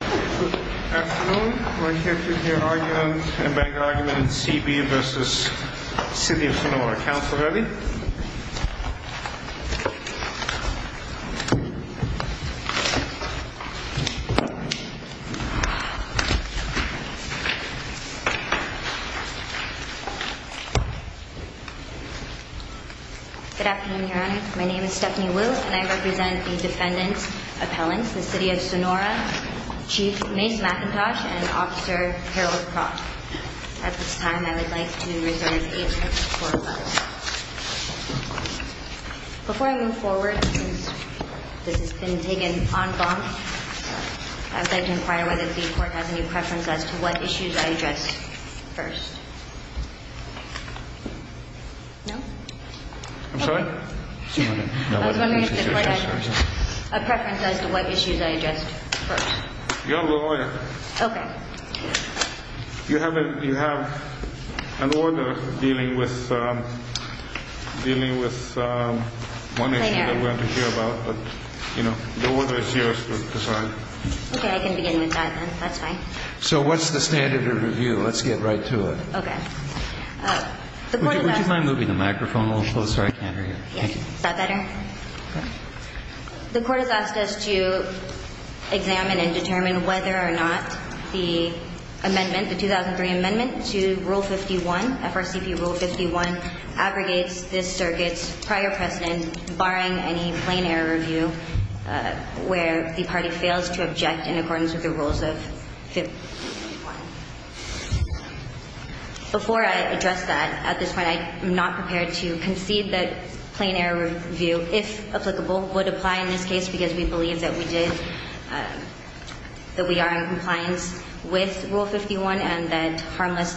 Good afternoon, we're here to hear arguments, to debate arguments, C. B. v. City of Sonora. Councilor Levy? Good afternoon, your honor. My name is Stephanie Wu and I represent the defendants' appellants, the City of Sonora, Chief Mace McIntosh, and Officer Harold Croft. At this time, I would like to represent each of the four of us. Before I move forward, I'd like to inquire whether it would be important to have a preference as to what issues I address first. No? I'm sorry? A preference as to what issues I address first. You're the lawyer. Okay. You have an order dealing with one issue that we want to hear about, but the order is yours to decide. Okay, I can begin with that then. That's fine. So what's the standard of review? Let's get right to it. Okay. Would you mind moving the microphone a little closer, Andrea? Is that better? The court has asked us to examine and determine whether or not the amendment, the 2003 amendment to Rule 51, FRCP Rule 51, aggregates this circuit's prior precedent, barring any plain error review where the party fails to object in accordance with the rules of 51. Before I address that at this point, I am not prepared to concede that plain error review, if applicable, would apply in this case because we believe that we are in compliance with Rule 51 and that harmless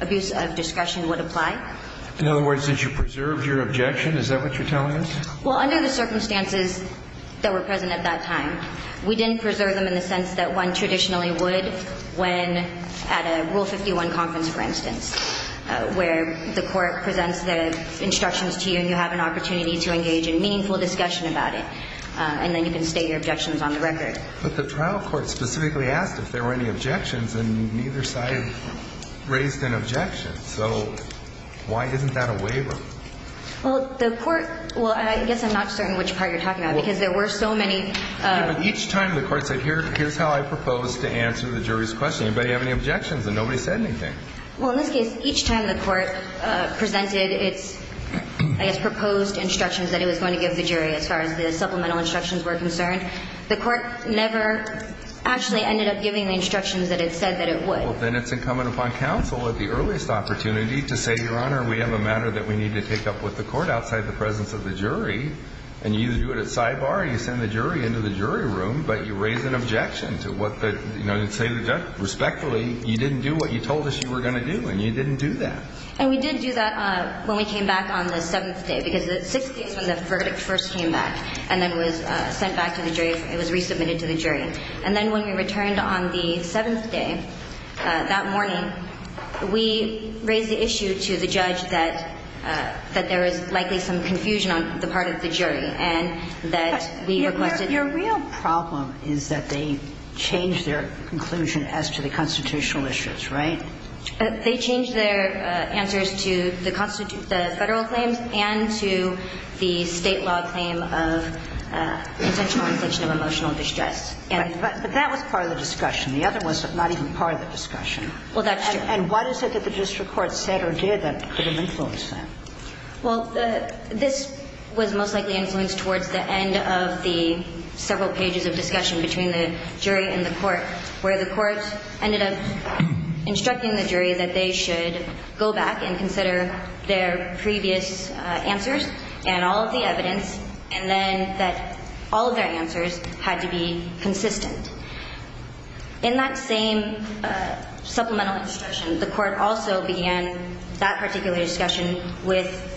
abuse of discretion would apply. In other words, did you preserve your objection? Is that what you're telling us? Well, under the circumstances that were present at that time, we didn't preserve them in the sense that one traditionally would when at a Rule 51 conference, for instance, where the court presents the instructions to you and you have an opportunity to engage in meaningful discussion about it, and then you can state your objections on the record. But the trial court specifically asked if there were any objections, and neither side raised an objection. So why isn't that a waiver? Well, the court – well, I guess I'm not sharing which part you're talking about because there were so many – Each time the court said, here's how I propose to answer the jury's question, did anybody have any objections, and nobody said anything. Well, in this case, each time the court presented its – and its proposed instructions that it was going to give the jury as far as the supplemental instructions were concerned, the court never actually ended up giving the instructions that it said that it would. Well, then it's incumbent upon counsel at the earliest opportunity to say, Your Honor, we have a matter that we need to take up with the court outside the presence of the jury, and you either do it at sidebar or you send the jury into the jury room, but you raise an objection to what the – you know, and say respectfully, you didn't do what you told us you were going to do, and you didn't do that. And we did do that when we came back on the seventh day, because the sixth day when the verdict first came back and then was sent back to the jury – it was resubmitted to the jury. And then when we returned on the seventh day, that morning, we raised the issue to the judge that there was likely some confusion on the part of the jury, and that we requested – Your real problem is that they changed their conclusion as to the constitutional issues, right? They changed their answers to the federal claim and to the state law claim of intentional violation of emotional distress. But that was part of the discussion. The other was not even part of the discussion. Well, that's true. And what is it that the district court said or did that could have influenced that? Well, this was most likely influenced towards the end of the several pages of discussion between the jury and the court, where the court ended up instructing the jury that they should go back and consider their previous answers and all of the evidence, and then that all of their answers had to be consistent. In that same supplemental discussion, the court also began that particular discussion with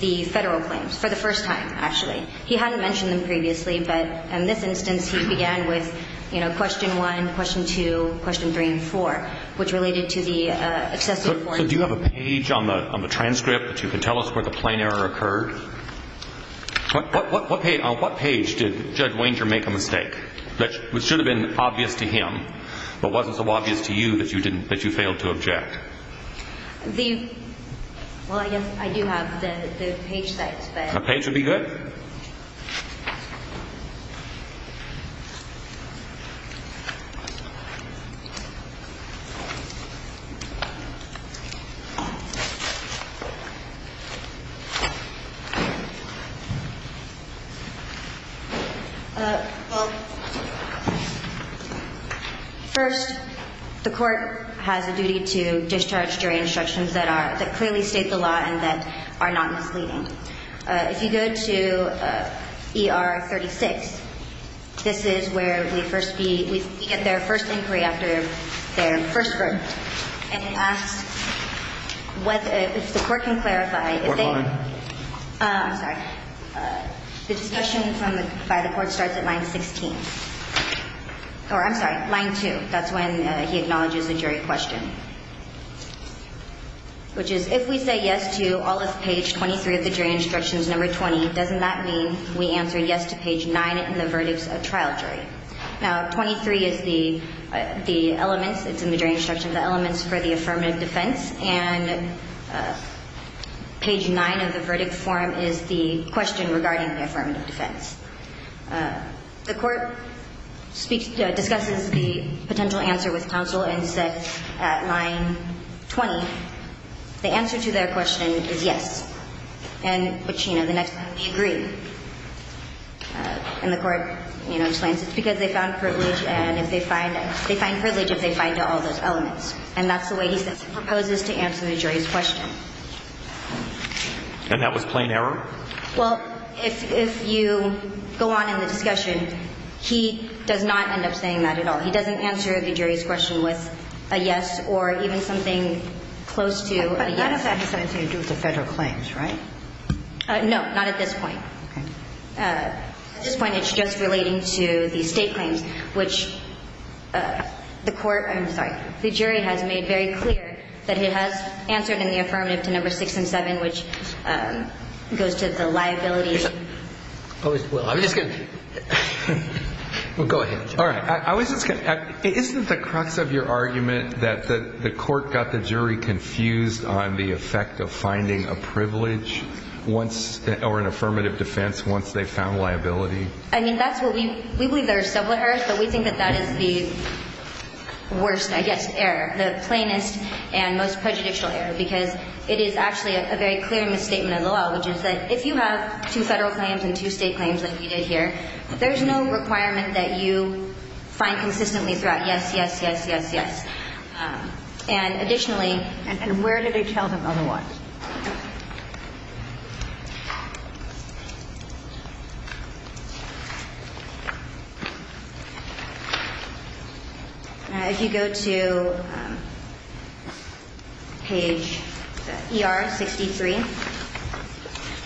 the federal claims, for the first time, actually. He hadn't mentioned them previously, but in this instance, he began with, you know, question one, question two, question three, and four, which related to the excessive – So do you have a page on the transcript that you can tell us where the plan error occurred? On what page did Judge Wenger make a mistake? It should have been obvious to him, but wasn't so obvious to you that you failed to object? Well, I guess I do have the page that said – A page would be good. Well, first, the court has a duty to discharge jury instructions that are – that clearly state the law and that are non-completing. If you go to ER 36, this is where we first see – we get their first inquiry after their first hearing. If the court can clarify – Court, go ahead. I'm sorry. This discussion from the side of the court starts at line 16. Or, I'm sorry, line two. That's when he acknowledges the jury question. Which is, if we say yes to all of page 23 of the jury instructions, number 20, doesn't that mean we answer yes to page 9 in the verdict of trial jury? Now, 23 is the element – it's in the jury instructions – the element for the affirmative defense, and page 9 of the verdict form is the question regarding the affirmative defense. The court speaks – discusses the potential answer with counsel and says at line 20, the answer to their question is yes. And the next time he agrees, and the court, you know, explains it's because they found privilege and if they find privilege, they find all those elements. And that's the way he proposes to answer the jury's question. And that was plain error? Well, if you go on in the discussion, he does not end up saying that at all. He doesn't answer a jury's question with a yes or even something close to a yes. But that doesn't necessarily include the federal claims, right? No, not at this point. At this point, it's just relating to the state claims, which the court – I'm sorry – the jury has made very clear that it has answered in the affirmative to number 6 and 7, which goes to the liability. Well, I was just going to – well, go ahead. All right. I was just going to – isn't the crux of your argument that the court got the jury confused on the effect of finding a privilege once – or an affirmative defense once they found liability? I mean, that's what we – we believe there are several errors, but we think that that is the worst, I guess, error, the plainest and most prejudicial error, because it is actually a very clear misstatement of the law, which is that if you have two federal claims and two state claims, like we did here, there's no requirement that you find consistently throughout yes, yes, yes, yes, yes. And additionally – And where do they tell them on what? All right. If you go to page ER-63.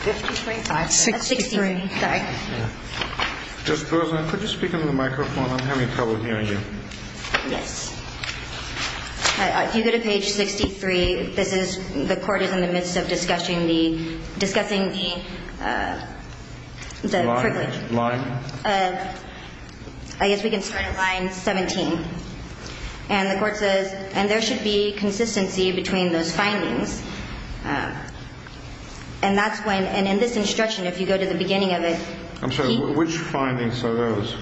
63? 63. Sorry. Just because I couldn't speak into the microphone, I'm having trouble hearing you. Yes. If you go to page 63, this is – the court is in the midst of discussing the privilege. Line? I guess we can put line 17. And the court says, and there should be consistency between those findings. And that's when – and in this instruction, if you go to the beginning of it – I'm sorry. Which findings are those?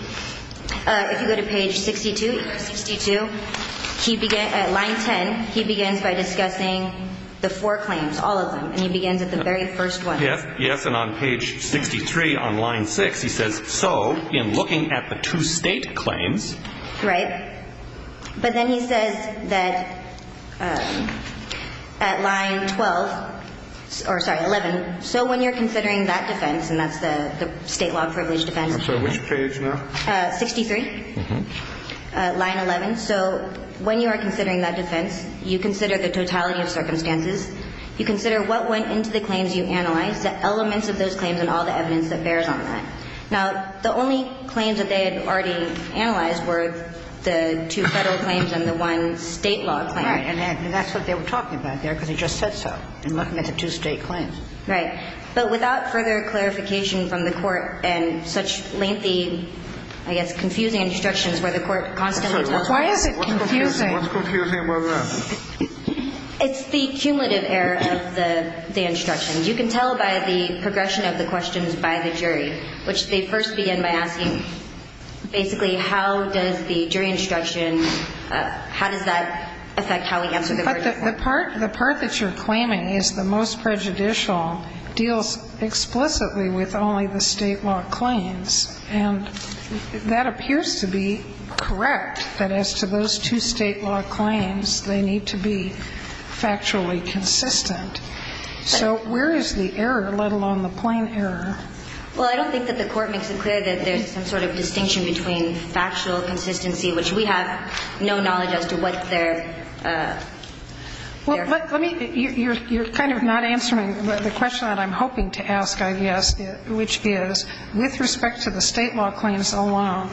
If you go to page 62, line 10, he begins by discussing the four claims, all of them. And he begins with the very first one. Yes. And on page 63 on line 6, he says, so, in looking at the two state claims – Right. But then he says that at line 12 – or, sorry, 11, so when you're considering that defense, and that's the statewide privilege defense – I'm sorry. Which page now? 63. Line 11. So, when you are considering that defense, you consider the totality of circumstances. You consider what went into the claims you analyzed, the elements of those claims, and all the evidence that bears on that. Now, the only claims that they had already analyzed were the two federal claims and the one state law claim. Right. And that's what they were talking about there, because he just said so, in looking at the two state claims. Right. But without further clarification from the court and such lengthy, I guess, confusing instructions where the court constantly – Why is it confusing? What's confusing about that? It's the cumulative error of the instructions. You can tell by the progression of the questions by the jury, which they first begin by asking, basically, how does the jury instruction – how does that affect how we answer the verdict? The part that you're claiming is the most prejudicial deals explicitly with only the state law claims. And that appears to be correct, that as to those two state law claims, they need to be factually consistent. So, where is the error, let alone the point error? Well, I don't think that the court makes it clear that there's some sort of distinction between factual consistency, which we have no knowledge as to what's there. You're kind of not answering the question that I'm hoping to ask, I guess, which is, with respect to the state law claims alone,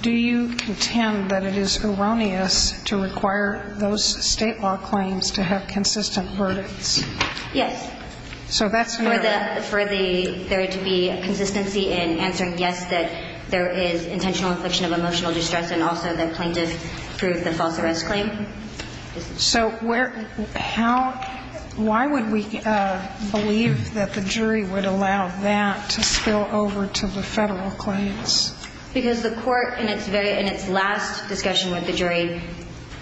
do you contend that it is erroneous to require those state law claims to have consistent verdicts? Yes. So that's – For there to be a consistency in answering yes, that there is intentional infliction of emotional distress, and also that plaintiff drew the false arrest claim. So, where – how – why would we believe that the jury would allow that to spill over to the federal claims? Because the court, in its last discussion with the jury,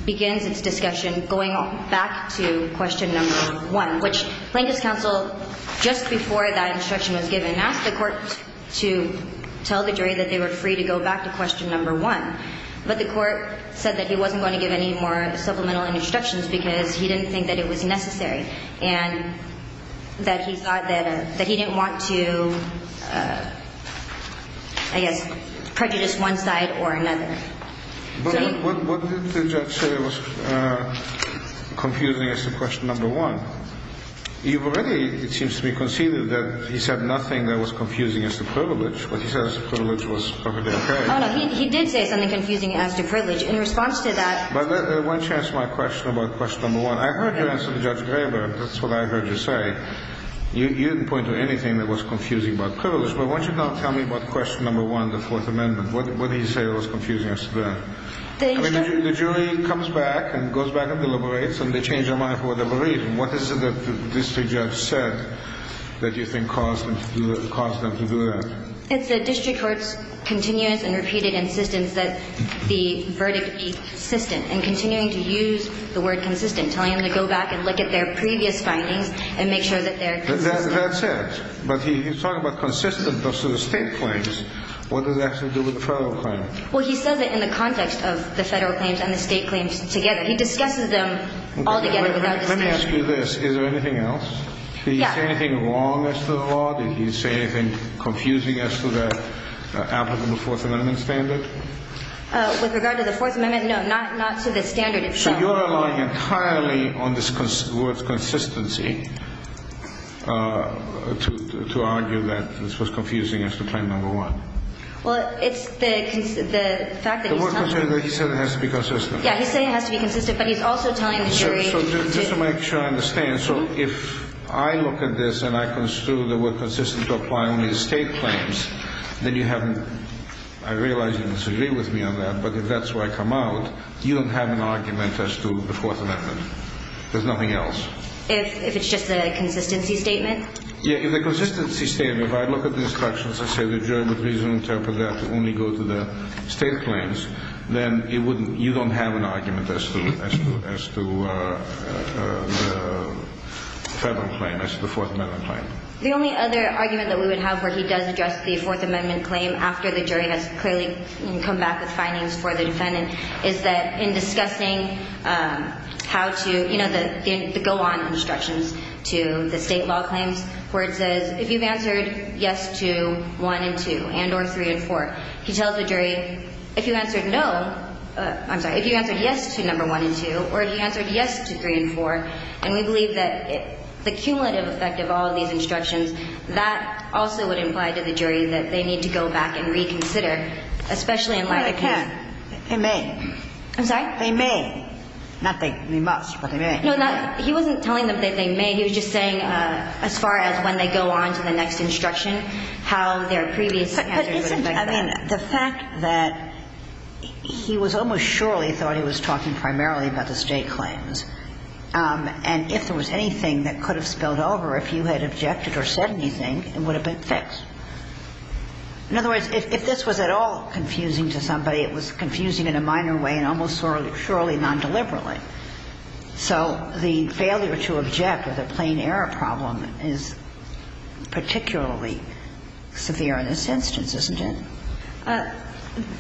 begins its discussion going back to question number one, which plaintiff's counsel, just before that instruction was given, asked the court to tell the jury that they were free to go back to question number one. But the court said that he wasn't going to give any more supplemental instructions because he didn't think that it was necessary and that he thought that he didn't want to, I guess, prejudice one side or another. What did the judge say was confusing as to question number one? You've already, it seems to me, conceded that he said nothing that was confusing as to privilege. He says privilege was perfectly fair. He did say something confusing as to privilege. In response to that – Why don't you answer my question about question number one? I heard you answer to Judge Graber. That's what I heard you say. You didn't point to anything that was confusing about privilege. But why don't you now tell me about question number one, the Fourth Amendment? What did he say was confusing as to that? The jury comes back and goes back and deliberates, and they change their mind for whatever reason. What is it that the district judge said that you think caused them to do that? It's the district court's continuous and repeated insistence that the verdict be consistent and continuing to use the word consistent, telling them to go back and look at their previous findings and make sure that they're consistent. That's it. But he's talking about consistency versus state claims. What does that have to do with federal claims? Well, he said that in the context of the federal claims and the state claims together, he discusses them all together. Let me ask you this. Is there anything else? Did he say anything wrong as to the law? Did he say anything confusing as to the applicable Fourth Amendment standards? With regard to the Fourth Amendment, no, not to the standard itself. So you're relying entirely on this word consistency to argue that this was confusing as to claim number one? Well, it's the fact that he said it has to be consistent. Yeah, he's saying it has to be consistent, but he's also telling the jury— Just to make sure I understand, so if I look at this and I can assume that we're consistent to apply only the state claims, then you haven't— I realize you disagree with me on that, but if that's where I come out, you don't have an argument as to the Fourth Amendment. There's nothing else. If it's just a consistency statement? Yeah, if it's a consistency statement, if I look at the instructions that say that you don't have an argument as to the Federal claim, as to the Fourth Amendment claim. The only other argument that we would have where he does address the Fourth Amendment claim after the jury has clearly come back with findings for the defendant is that in discussing how to—you know, the go-on instructions to the state law claim, where it says, if you've answered yes to one and two and or three and four, he tells the jury, if you answered no—I'm sorry, if you answered yes to number one and two or if you answered yes to three and four, and we believe that the cumulative effect of all of these instructions, that also would imply to the jury that they need to go back and reconsider, especially in light of— I can't. They may. I'm sorry? They may. Nothing. We must, but they may. No, he wasn't telling them that they may. He was just saying as far as when they go on to the next instruction, how their previous— I mean, the fact that he was almost surely thought he was talking primarily about his J claims, and if there was anything that could have spilled over, if you had objected or said anything, it would have been fixed. In other words, if this was at all confusing to somebody, it was confusing in a minor way and almost surely non-deliberately. So the failure to object with a plain error problem is particularly severe in this instance, isn't it?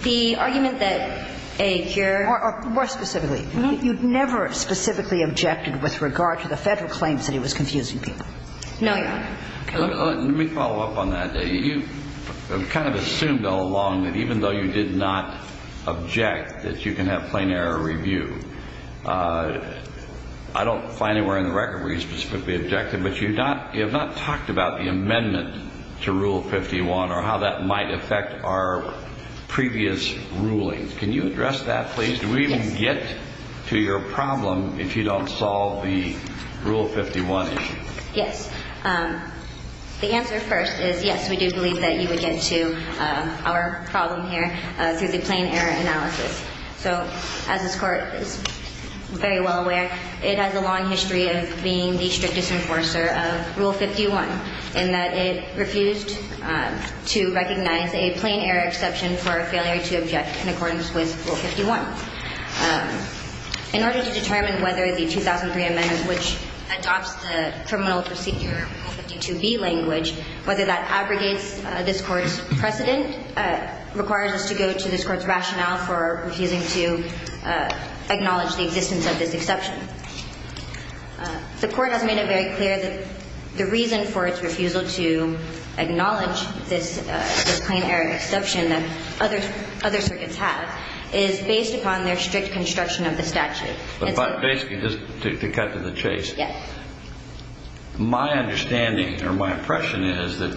The argument that a jury— More specifically, you never specifically objected with regard to the federal claims that he was confusing people. No. Let me follow up on that. You kind of assumed all along that even though you did not object, that you can have plain error review. I don't find anywhere in the record where you specifically objected, but you have not talked about the amendment to Rule 51 or how that might affect our previous ruling. Can you address that, please? Do we even get to your problem if you don't solve the Rule 51 issue? Yes. The answer first is yes, we do believe that you would get to our problem here through the plain error analysis. So, as this Court is very well aware, it has a long history of being the strict disenforcer of Rule 51 in that it refused to recognize a plain error exception for failure to object in accordance with Rule 51. In order to determine whether the 2003 amendment, which adopts the Terminal Procedure 52D language, whether that aggregates this Court's precedent, requires us to go to this Court's rationale for refusing to acknowledge the existence of this exception. The Court has made it very clear that the reason for its refusal to acknowledge this plain error exception is based upon their strict construction of the statute. Basically, just to cut to the chase. Yes. My understanding, or my impression, is that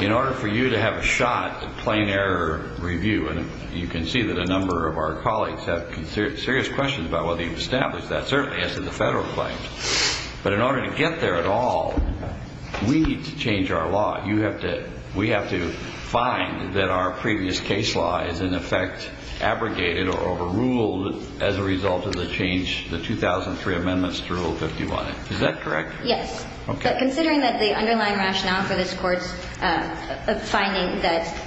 in order for you to have a shot at the plain error review, and you can see that a number of our colleagues have serious questions about whether you've established that. Certainly, as in the federal claims. But in order to get there at all, we need to change our law. We have to find that our previous case law is, in effect, abrogated or overruled as a result of the change, the 2003 amendments to Rule 51. Is that correct? Yes. But considering that the underlying rationale for this Court's finding that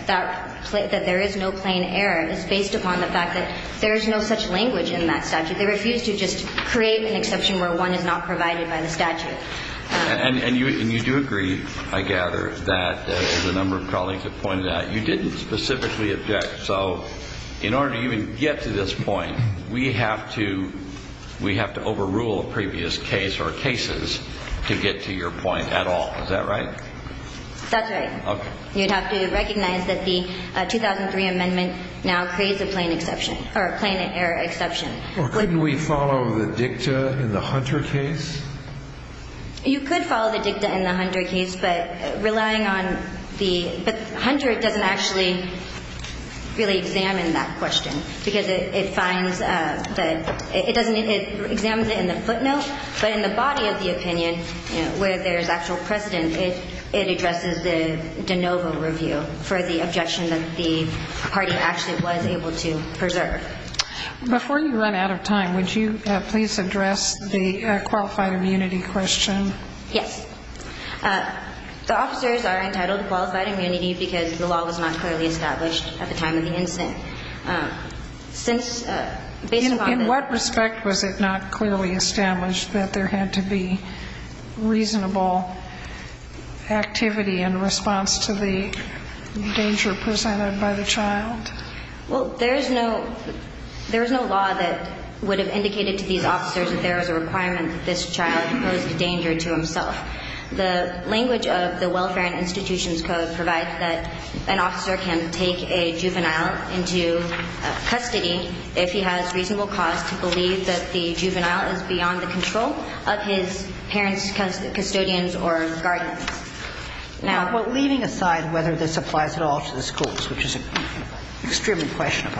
there is no plain error is based upon the fact that there is no such language in that statute. They refuse to just create an exception where one is not provided by the statute. And you do agree, I gather, that as a number of colleagues have pointed out, you didn't specifically object. So in order for you to get to this point, we have to overrule a previous case or cases to get to your point at all. Is that right? That's right. Okay. You'd have to recognize that the 2003 amendment now creates a plain error exception. Well, couldn't we follow the dicta in the Hunter case? You could follow the dicta in the Hunter case, but relying on the Hunter doesn't actually really examine that question because it finds that it doesn't examine it in the footnote, but in the body of the opinion where there is actual precedent, it addresses the de novo review for the objection that the party actually was able to preserve. Before you run out of time, would you please address the qualified immunity question? Yes. The officers are entitled to qualified immunity because the law was not clearly established at the time of the incident. In what respect was it not clearly established that there had to be reasonable activity in response to the danger presented by the child? Well, there is no law that would have indicated to these officers that there is a requirement that this child poses danger to himself. The language of the Welfare and Institutions Code provides that an officer can take a juvenile into custody if he has reasonable cause to believe that the juvenile is beyond the control of his parents, custodians, or guardians. Now, leaving aside whether this applies at all to the schools, which is an experiment question,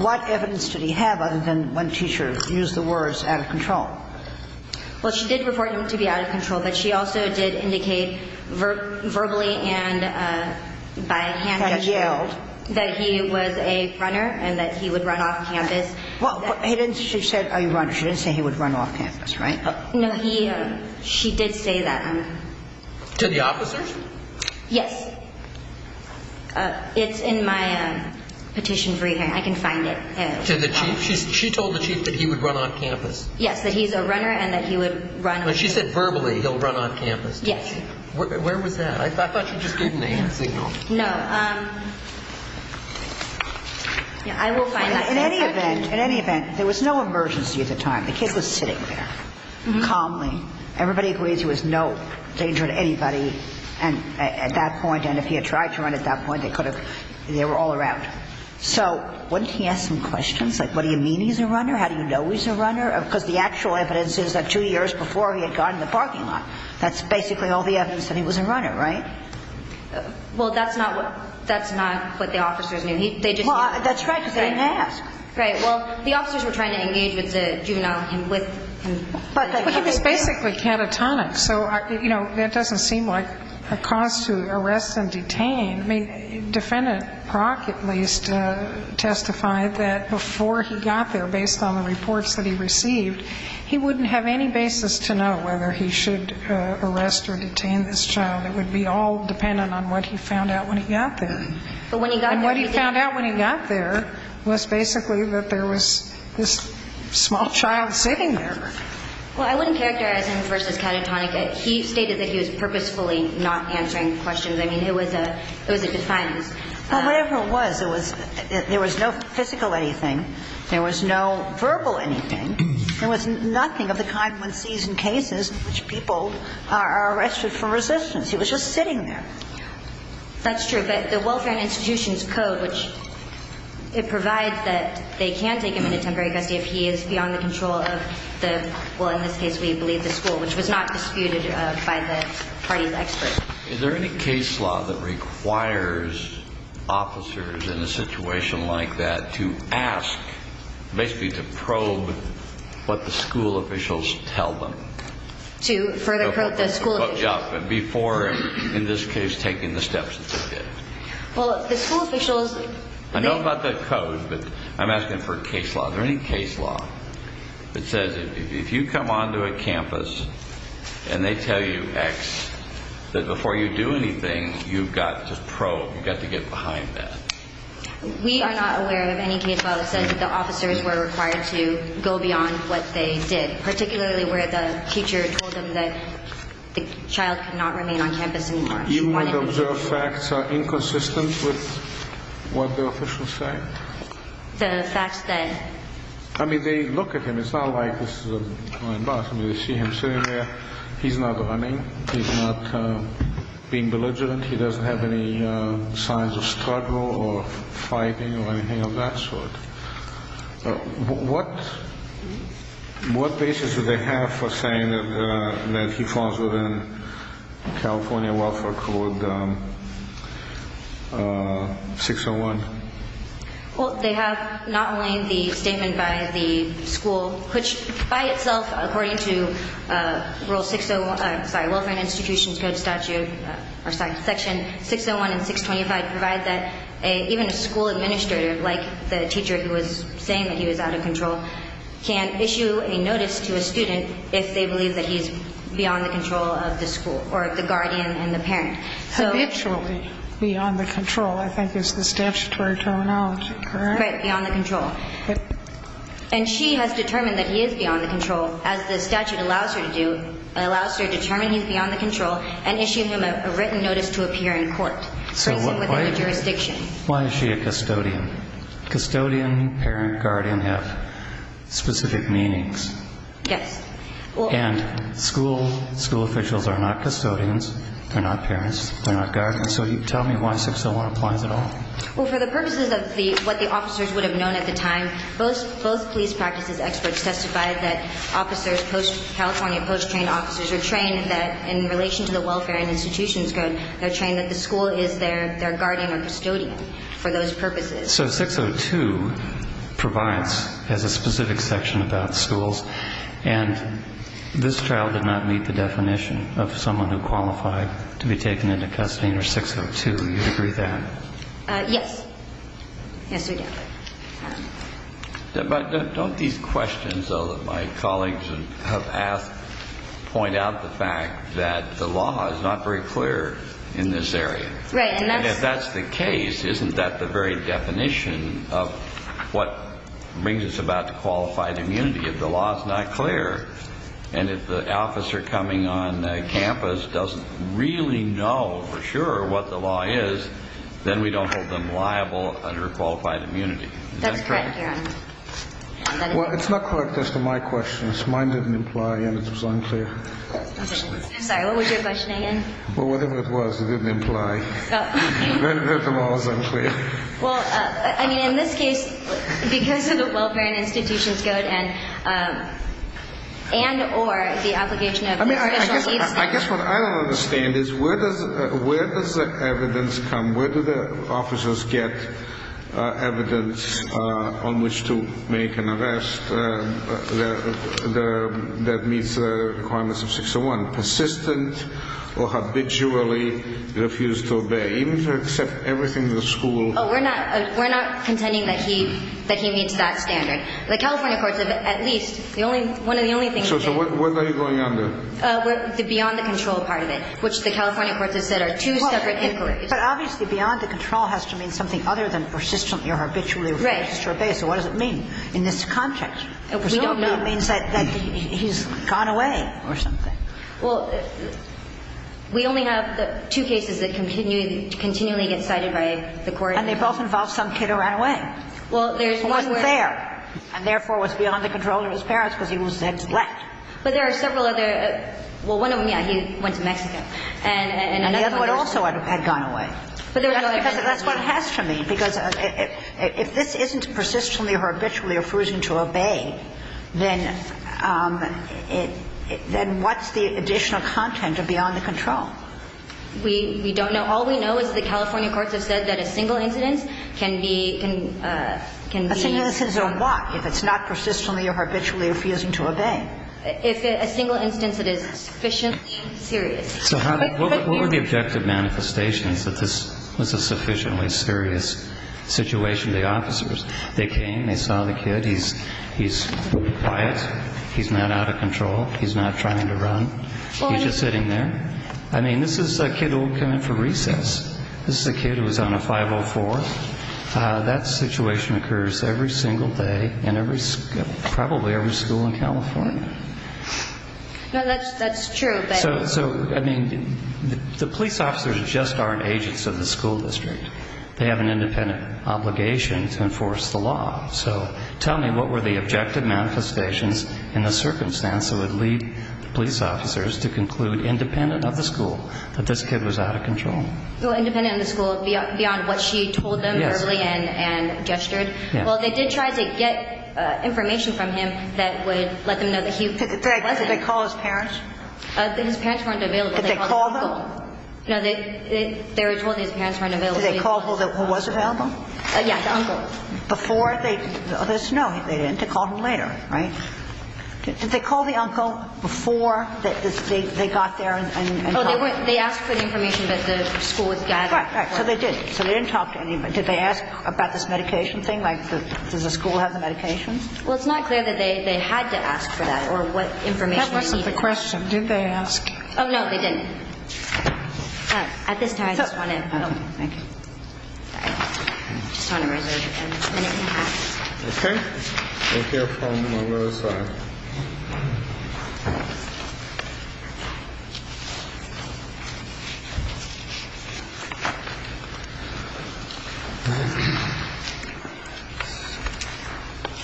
what evidence did he have other than when teachers used the words out of control? Well, she did report him to be out of control, but she also did indicate verbally and by a campus that he was a fronter and that he would run off campus. Well, she didn't say he would run off campus, right? No, she did say that. To the officers? Yes. It's in my petition for you. I can find it. She told the chief that he would run off campus? Yes, that he's a runner and that he would run... She said verbally he'll run off campus. Yes. Where was that? I thought that was a good name. No. I will find that. In any event, there was no emergency at the time. The kid was sitting there, calmly. Everybody agreed there was no danger to anybody at that point, and if he had tried to run at that point, they were all around him. So, wouldn't he ask some questions, like what do you mean he's a runner? How do you know he's a runner? Because the actual evidence is that two years before he had gone to the parking lot. That's basically all the evidence that he was a runner, right? Well, that's not what the officers knew. Well, that's correct. They didn't ask. Well, the officers were trying to engage with the juvenile... But it was basically catatonic, so that doesn't seem like a cause to arrest and detain. I mean, Defendant Crockett at least testified that before he got there, based on the reports that he received, he wouldn't have any basis to know whether he should arrest or detain this child. It would be all dependent on what he found out when he got there. And what he found out when he got there was basically that there was this small child sitting there. Well, I wouldn't characterize him as versus catatonic. He stated that he was purposefully not answering questions. I mean, it was a defiance. Well, whatever it was, there was no physical anything. There was no verbal anything. There was nothing of the kind one sees in cases in which people are arrested for resistance. He was just sitting there. That's true, but the Welfare Institution's code, which it provides that they can take him to Montgomery if he is beyond the control of the school, in this case we believe the school, which was not disputed by the party's experts. Is there any case law that requires officers in a situation like that to ask, basically to probe what the school officials tell them? To probe the school officials? Yeah, before, in this case, taking the steps that they did. Well, the school officials... I know about that code, but I'm asking for a case law. Is there any case law that says if you come onto a campus and they tell you X, that before you do anything, you've got to probe, you've got to get behind that? We are not aware of any case law that says that the officers were required to go beyond what they did, particularly where the teacher told them that the child could not remain on campus anymore. Even when the facts are inconsistent with what the officials say? The fact that... I mean, they look at him. It's not like this is a blind box. They see him sitting there. He's not running. He's not being belligerent. He doesn't have any signs of struggle or fighting or anything of that sort. What basis do they have for saying that he falls within California welfare code 601? Well, they have not only the statement by the school, which by itself according to rule 601 by Wilson Institution Code Statute Section 601 and 625 provide that even a school administrator, like the teacher who was saying that he was out of control, can issue a notice to a student if they believe that he's beyond the control of the school or the guardian and the parents. Eventually beyond the control, I think, is the statutory terminology, correct? Right, beyond the control. And she has determined that he is beyond the control, as the statute allows her to do. It allows her to determine he's beyond the control and issues him a written notice to appear in court. Why is she a custodian? Custodian, parent, guardian have specific meanings. Yes. And school officials are not custodians. They're not parents. They're not guardians. So tell me why 601 applies at all. Well, for the purposes of what the officers would have known at the time, both police practices experts testified that officers, California post-trained officers, were trained that in relation to the welfare institutions code, they're trained that the school is their guardian or custodian for those purposes. So 602 provides a specific section about schools. And this trial did not meet the definition of someone who qualified to be taken into custody under 602. Do you agree with that? Yes. Yes, we do. But don't these questions, though, that my colleagues have asked, point out the fact that the law is not very clear in this area? Right. And if that's the case, isn't that the very definition of what brings us about the qualified immunity? If the law is not clear, and if the officer coming on campus doesn't really know for sure what the law is, then we don't hold them liable under qualified immunity. That's correct, yeah. Well, it's not correct as to my questions. Mine didn't imply anything, so I'm clear. I'm sorry, what was your question again? Well, whatever it was, it didn't imply. You heard them all, so I'm clear. Well, I mean, in this case, because of the welfare institutions go ahead, and or the obligation of the article 80. I guess what I don't understand is where does the evidence come? Where do the officers get evidence on which to make an arrest that meets the requirements of 601? Persistent or habitually refuse to obey. They need to accept everything in the school. Oh, we're not contending that he meets that standard. The California courts, at least, one of the only things they do. So what are they going under? The beyond the control part of it, which the California courts have said are two separate histories. But obviously beyond the control has to mean something other than persistently or habitually refuse to obey. So what does it mean in this context? It means that he's gone away or something. Well, we only have two cases that continually get cited by the courts. And they both involve some kid who ran away. Well, there's two. Who wasn't there and, therefore, was beyond the control of his parents because he was then left. But there are several other. Well, one of them, yeah, he went to Mexico. And the other one also had gone away. That's what it has to mean because if this isn't persistently or habitually refusing to obey, then what's the additional content of beyond the control? We don't know. All we know is the California courts have said that a single incident can be used as a what if it's not persistently or habitually refusing to obey? If a single incident is sufficiently serious. So what were the objective manifestations that this was a sufficiently serious situation? The officers, they came, they saw the kid. He's quiet. He's not out of control. He's not trying to run. He's just sitting there. I mean, this is a kid who came in for recess. This is a kid who was on the 504. That situation occurs every single day in probably every school in California. That's true. So, I mean, the police officers just aren't agents of the school district. They have an independent obligation to enforce the law. So tell me what were the objective manifestations in the circumstance that would lead police officers to conclude, independent of the school, that this kid was out of control? Well, independent of the school, beyond what she told them early and gestured. Well, they did try to get information from him that would let them know that he was. Did they call his parents? His parents weren't available. Did they call them? No, they were told his parents weren't available. Did they call who was available? Yes, uncle. No, they didn't. They called him later, right? Did they call the uncle before they got there and told him? Well, they asked for information that the school would gather. Right, right. So they did. So they didn't talk to anybody. Did they ask about this medication thing? Like, does the school have the medications? Well, it's not clear that they had to ask for that or what information they needed. That might be the question. Did they ask? Oh, no, they didn't. All right. At this point, I just want to. Thank you. I just want to remind you again. Okay. Let's hear from the other side.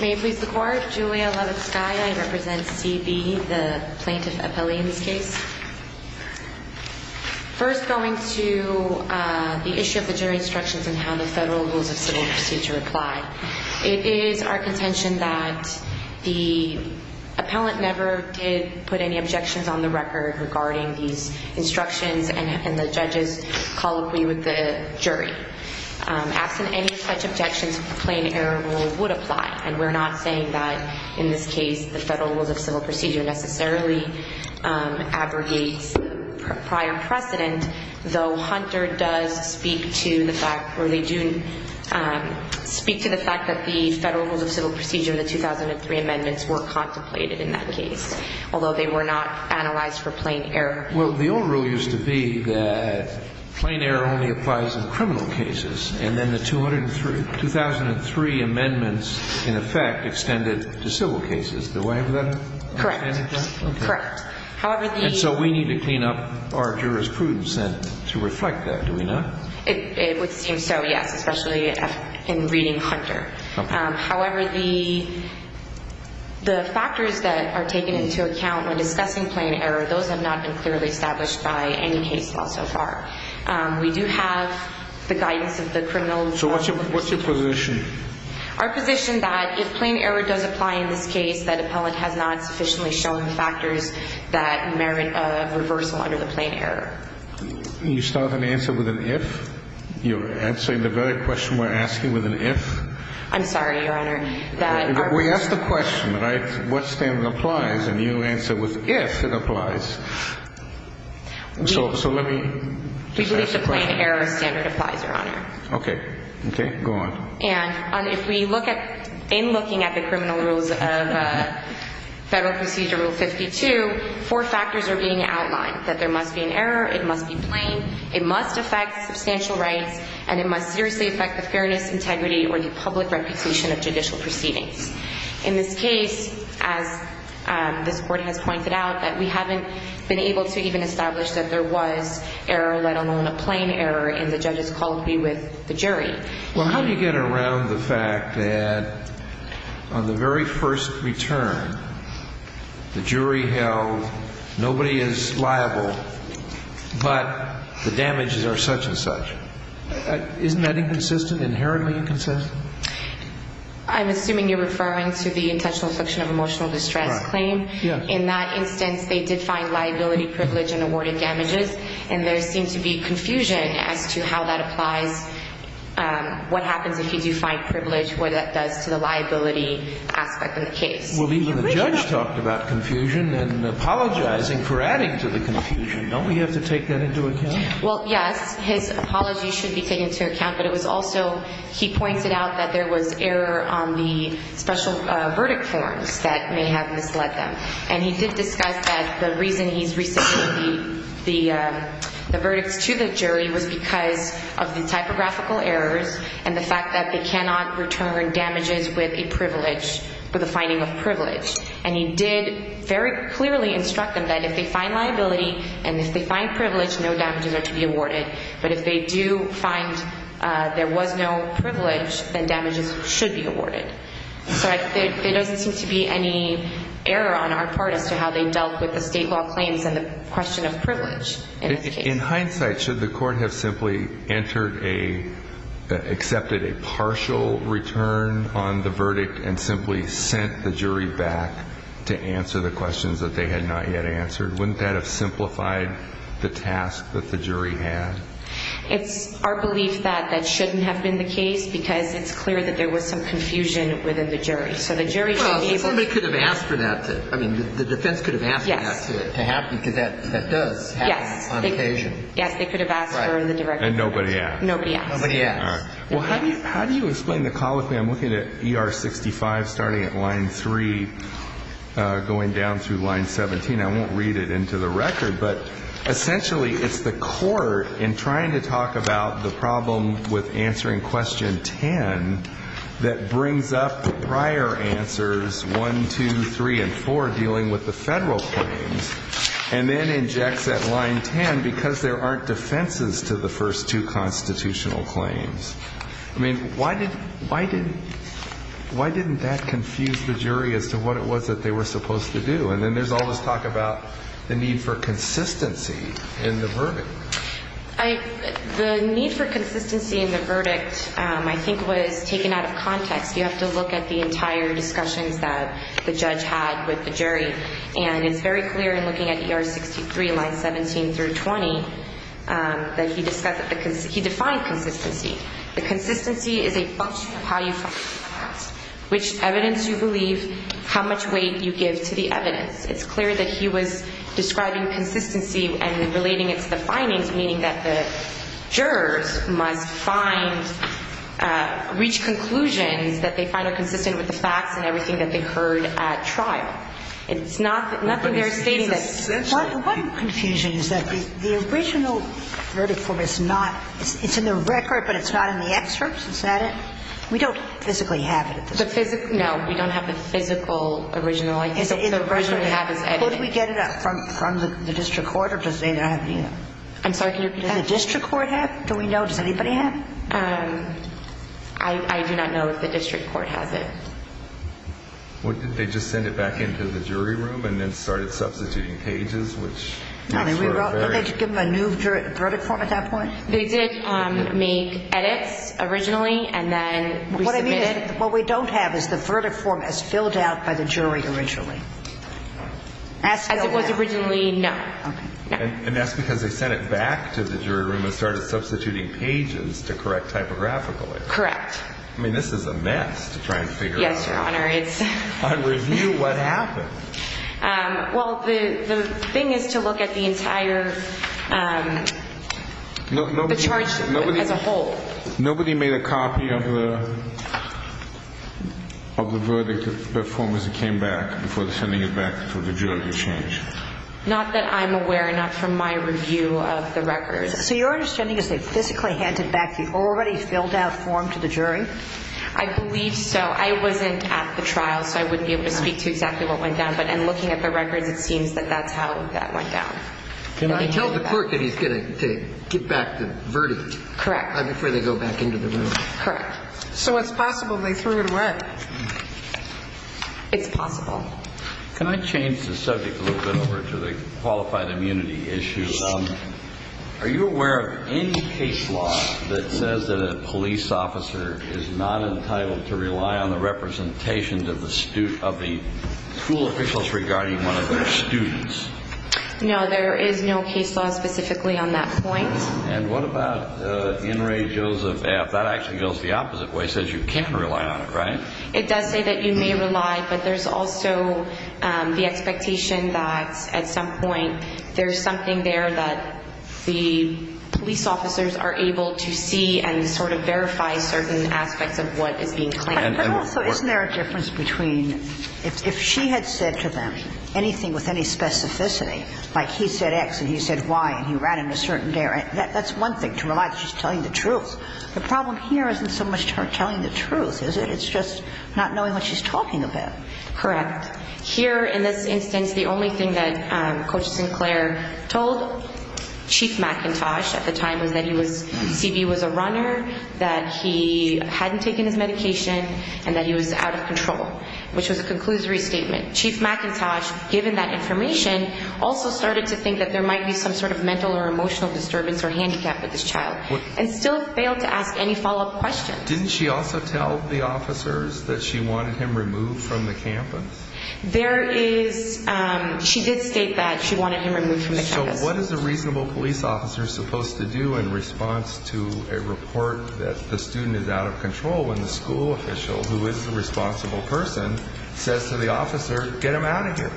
May I please report? Julia Lozada, I represent BB, the plaintiff's appellee in this case. First, going to the issue of the jury instructions on how the federal rule of civil procedure applies. It is our contention that the appellant never did put any objections on the record regarding the instructions and the judge's colloquy with the jury. After any such objections, the plain error rule would apply, and we're not saying that, in this case, the federal rule of civil procedure necessarily aggregates prior precedent, though Hunter does speak to the fact that the federal rule of civil procedure, the 2003 amendments were contemplated in that case, although they were not analyzed for plain error. Well, the old rule used to be that plain error only applies in criminal cases, and then the 2003 amendments, in effect, extended to civil cases. Does that make sense? Correct. Correct. And so we need to clean up our jurisprudence to reflect that, do we not? It would seem so, yes, especially in reading Hunter. However, the factors that are taken into account when assessing plain error, those have not been clearly established by any case law so far. We do have the guidance of the criminal law. So what's your position? Our position is that if plain error does apply in this case, that appellant has not sufficiently shown factors that merit a reversal under the plain error. You still have an answer with an if? You're answering the very question we're asking with an if? I'm sorry, Your Honor. We asked the question, right, what standard applies, and you answered with if it applies. So let me just ask the question. If the plain error applies, Your Honor. Okay. Okay, go on. And if we look at the criminal rules of Federal Procedure Rule 52, four factors are being outlined, that there must be an error, it must be plain, it must affect substantial rights, and it must seriously affect the fairness, integrity, or the public reputation of judicial proceedings. In this case, as the Court has pointed out, that we haven't been able to even establish that there was error, let alone a plain error in the judge's policy with the jury. Well, how do you get around the fact that on the very first return, the jury held nobody is liable, but the damages are such and such? Isn't that inconsistent? Inherently inconsistent? I'm assuming you're referring to the intentional affliction of emotional distress claim. Yes. In that instance, they did find liability, privilege, and awarded damages, and there seems to be confusion as to how that applies, what happens if you find privilege, what that does to the liability aspect of the case. Well, even the judge talked about confusion and apologizing for adding to the confusion. Don't we have to take that into account? Well, yes, his apology should be taken into account, but it was also he pointed out that there was error on the special verdict form that may have misled them, and he did discuss that the reason he's reaching the verdict to the jury was because of the typographical errors and the fact that they cannot return damages with a privilege for the finding of privilege, and he did very clearly instruct them that if they find liability and if they find privilege, no damages are to be awarded, but if they do find there was no privilege, then damages should be awarded. But there doesn't seem to be any error on our part as to how they dealt with the state law claims and the question of privilege. In hindsight, should the court have simply entered a, accepted a partial return on the verdict and simply sent the jury back to answer the questions that they had not yet answered? Wouldn't that have simplified the task that the jury had? It's our belief that that shouldn't have been the case because it's clear that there was some confusion within the jury. So the jury should be able to- Well, somebody could have asked for that. I mean, the defense could have asked for that to happen because that does happen on occasion. Yes, they could have asked for it in the direction- And nobody asked. Nobody asked. All right. Well, how do you explain the colloquy? I'm looking at ER 65 starting at line 3 going down through line 17. I won't read it into the record, but essentially it's the court in trying to talk about the problem with answering question 10 that brings up prior answers 1, 2, 3, and 4 dealing with the federal claims and then injects at line 10 because there aren't defenses to the first two constitutional claims. I mean, why didn't that confuse the jury as to what it was that they were supposed to do? And then there's all this talk about the need for consistency in the verdict. The need for consistency in the verdict, I think, was taken out of context. You have to look at the entire discussions that the judge had with the jury. And it's very clear in looking at ER 63, lines 17 through 20, that he defined consistency. The consistency is a function of how you talk about it, which evidence you believe, how much weight you give to the evidence. It's clear that he was describing consistency and relating it to the findings, meaning that the jurors must reach conclusions that they find are consistent with the facts and everything that they heard at trial. It's not that they're famous. The one confusion is that the original verdict court is not, it's in the record, but it's not in the excerpts, is that it? We don't physically have it. No, we don't have the physical original. We don't physically have it. Did we get it from the district court? I'm sorry, did the district court have it? Do we know? Does anybody have it? I do not know if the district court has it. Well, did they just send it back into the jury room and then started substituting pages? No, we wrote a new verdict court at that point. They did the edit originally, and then we submitted it. What we don't have is the verdict form as filled out by the jury originally. I think it was originally not. And that's because they sent it back to the jury room and started substituting pages to correct typographically. Correct. I mean, this is a mess to try and figure out. Yes, it is. On review, what happened? Well, the thing is to look at the insider's approach to look at the whole. Nobody made a copy of the verdict, the form as it came back, before sending it back to the jury to change? Not that I'm aware, not from my review of the record. So your understanding is they physically handed back the already filled-out form to the jury? I believe so. I wasn't at the trial, so I wouldn't be able to speak to exactly what went down, but in looking at the record, it seems that that's how that went down. It tells the court that it's going to give back the verdict. Correct. Not before they go back into the room. Correct. So it's possible they threw it away. It's possible. Can I change the subject a little bit over to the qualified immunity issues? Are you aware of any case law that says that a police officer is not entitled to rely on the representation of the school officials regarding one of their students? No, there is no case law specifically on that point. And what about In re Joseph F.? That actually goes the opposite way. It says you can't rely on it, right? It does say that you may rely, but there's also the expectation that, at some point, there's something there that the police officers are able to see and sort of verify certain aspects of what is being claimed. Isn't there a difference between if she had said to them anything with any specificity, like he said X and he said Y and he ran in a certain direction, that's one thing to rely on, she's telling the truth. The problem here isn't so much her telling the truth, it's just not knowing what she's talking about. Correct. Here, in this instance, the only thing that Coach Sinclair told Chief McIntosh at the time was that Phoebe was a runner, that he hadn't taken his medication, and that he was out of control, which was a conclusory statement. Chief McIntosh, given that information, also started to think that there might be some sort of mental or emotional disturbance or handicap with this child and still failed to ask any follow-up questions. Didn't she also tell the officers that she wanted him removed from the campus? There is, she did state that she wanted him removed from the campus. So what is a reasonable police officer supposed to do in response to a report that the student is out of control and the school official, who is the responsible person, says to the officer, get him out of here?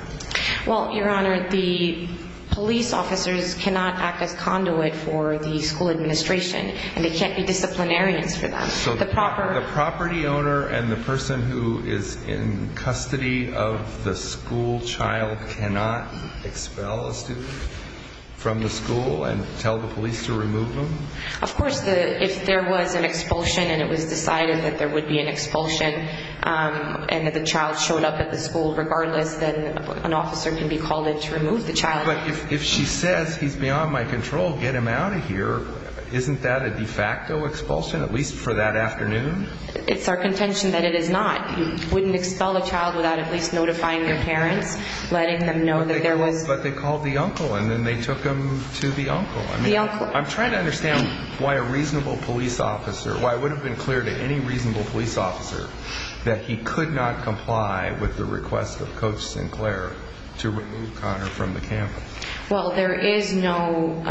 Well, Your Honor, the police officers cannot act as conduit for the school administration and they can't be disciplinarians for them. So the property owner and the person who is in custody of the school child cannot expel a student from the school and tell the police to remove them? Of course, if there was an expulsion and it was decided that there would be an expulsion and that the child showed up at the school, regardless, then an officer can be called in to remove the child. But if she says he's beyond my control, get him out of here, isn't that a de facto expulsion, at least for that afternoon? It's our contention that it is not. You wouldn't expel a child without at least notifying their parents, letting them know that there was... But they called the uncle and then they took him to the uncle. I'm trying to understand why a reasonable police officer, why it would have been clear to any reasonable police officer that he could not comply with the request of Coach Sinclair to remove Connor from the campus. Well, there is no...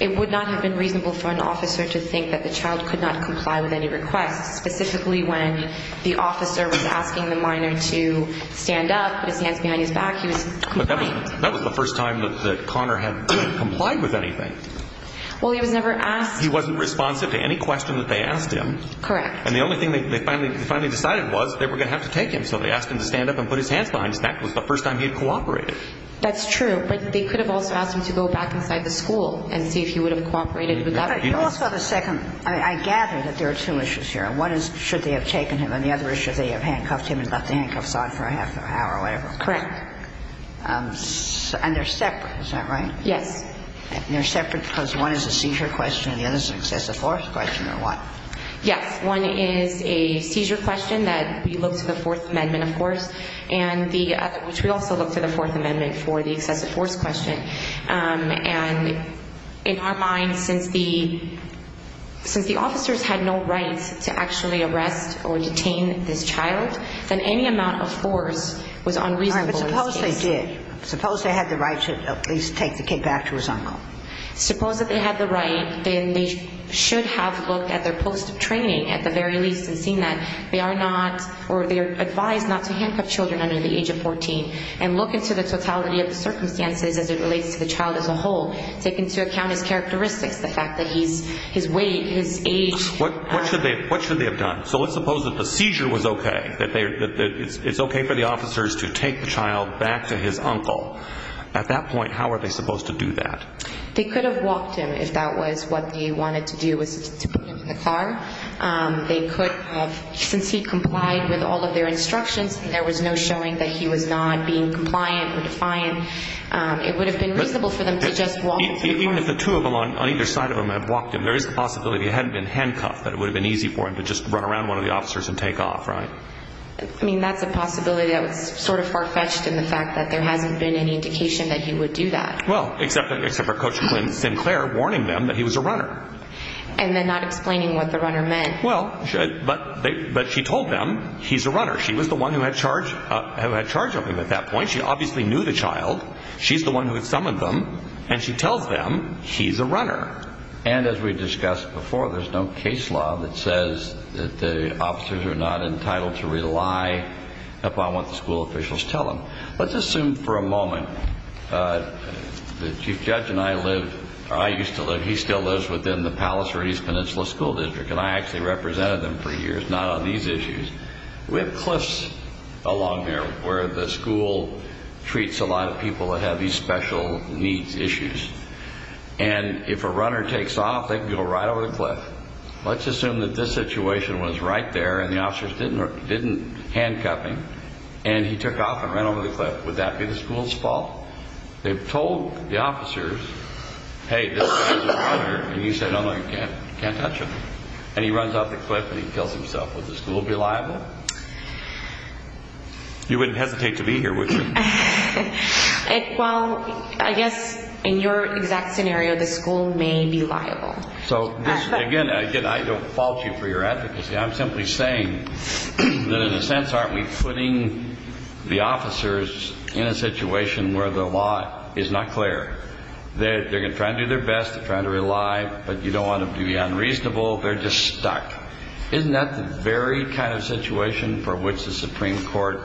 It would not have been reasonable for an officer to think that the child could not comply with any request, specifically when the officer was asking the minor to stand up, but he can't be manufactured. That was the first time that Connor had complied with anything. Well, he was never asked... He wasn't responsive to any question that they asked him. Correct. And the only thing they finally decided was they were going to have to take him, so they asked him to stand up and put his hands behind his back. It was the first time he had cooperated. That's true, but they could have also asked him to go back inside the pool and see if he would have cooperated with that. Tell us on a second... I gather that there are two issues here. One is should they have taken him, and the other is should they have handcuffed him and let the handcuffs on for half an hour or whatever. Correct. And they're separate, is that right? Yeah. And they're separate because one is a seizure question, and the other is a question of innocence. There's a fourth question or what? Yeah. One is a seizure question that we look for Fourth Amendment, of course, and we also look for the Fourth Amendment for the excessive force question. And in our mind, since the officers had no right to actually arrest or detain this child, then any amount of force was unreasonable. All right, but suppose they did. Suppose they had the right to take the kid back to his own home. Suppose that they had the right, then they should have looked at their post of training at the very least and seen that they are not or they're advised not to handcuff children under the age of 14 and look into the totality of the circumstances as it relates to the child as a whole. They can see a count of characteristics, the fact that his weight, his age. What should they have done? So let's suppose that the seizure was okay, that it's okay for the officers to take the child back to his uncle. At that point, how are they supposed to do that? They could have walked him if that was what they wanted to do with the child. They could have, since he complied with all of their instructions and there was no showing that he was not being compliant with science, it would have been reasonable for them to just walk him. Even if the two of them on either side of him had walked him, there is a possibility it hadn't been handcuffed, but it would have been easy for him to just run around one of the officers and take off, right? I mean, that's a possibility that was sort of far-fetched in the fact that there hasn't been any indication that he would do that. Well, except for Coach and Claire warning them that he was a runner. And then not explaining what the runner meant. Well, but she told them he's a runner. She was the one who had charge of him at that point. She obviously knew the child. She's the one who had summoned them, and she tells them he's a runner. And as we've discussed before, there's no case law that says that the officers are not entitled to rely upon what the school officials tell them. Let's assume for a moment, the chief judge and I lived, or I used to live, he still lives within the Palos Verdes Peninsula School District, and I actually represented them for years, not on these issues. We have cliffs along there where the school treats a lot of people that have these special needs issues. And if a runner takes off, they can go right over the cliff. Let's assume that this situation was right there and the officers didn't handcuff him, and he took off and went over the cliff. Would that be the school's fault? They've told the officers, hey, this is a runner, and he said, oh, you can't touch him. And he runs off the cliff and he kills himself. Would the school be liable? You wouldn't hesitate to be here, would you? Well, I guess in your exact scenario, the school may be liable. So, again, I don't fault you for your advocacy. I'm simply saying that in a sense aren't we putting the officers in a situation where the law is not clear? They're trying to do their best, they're trying to rely, but you don't want to be unreasonable. They're just stuck. Isn't that the very kind of situation for which the Supreme Court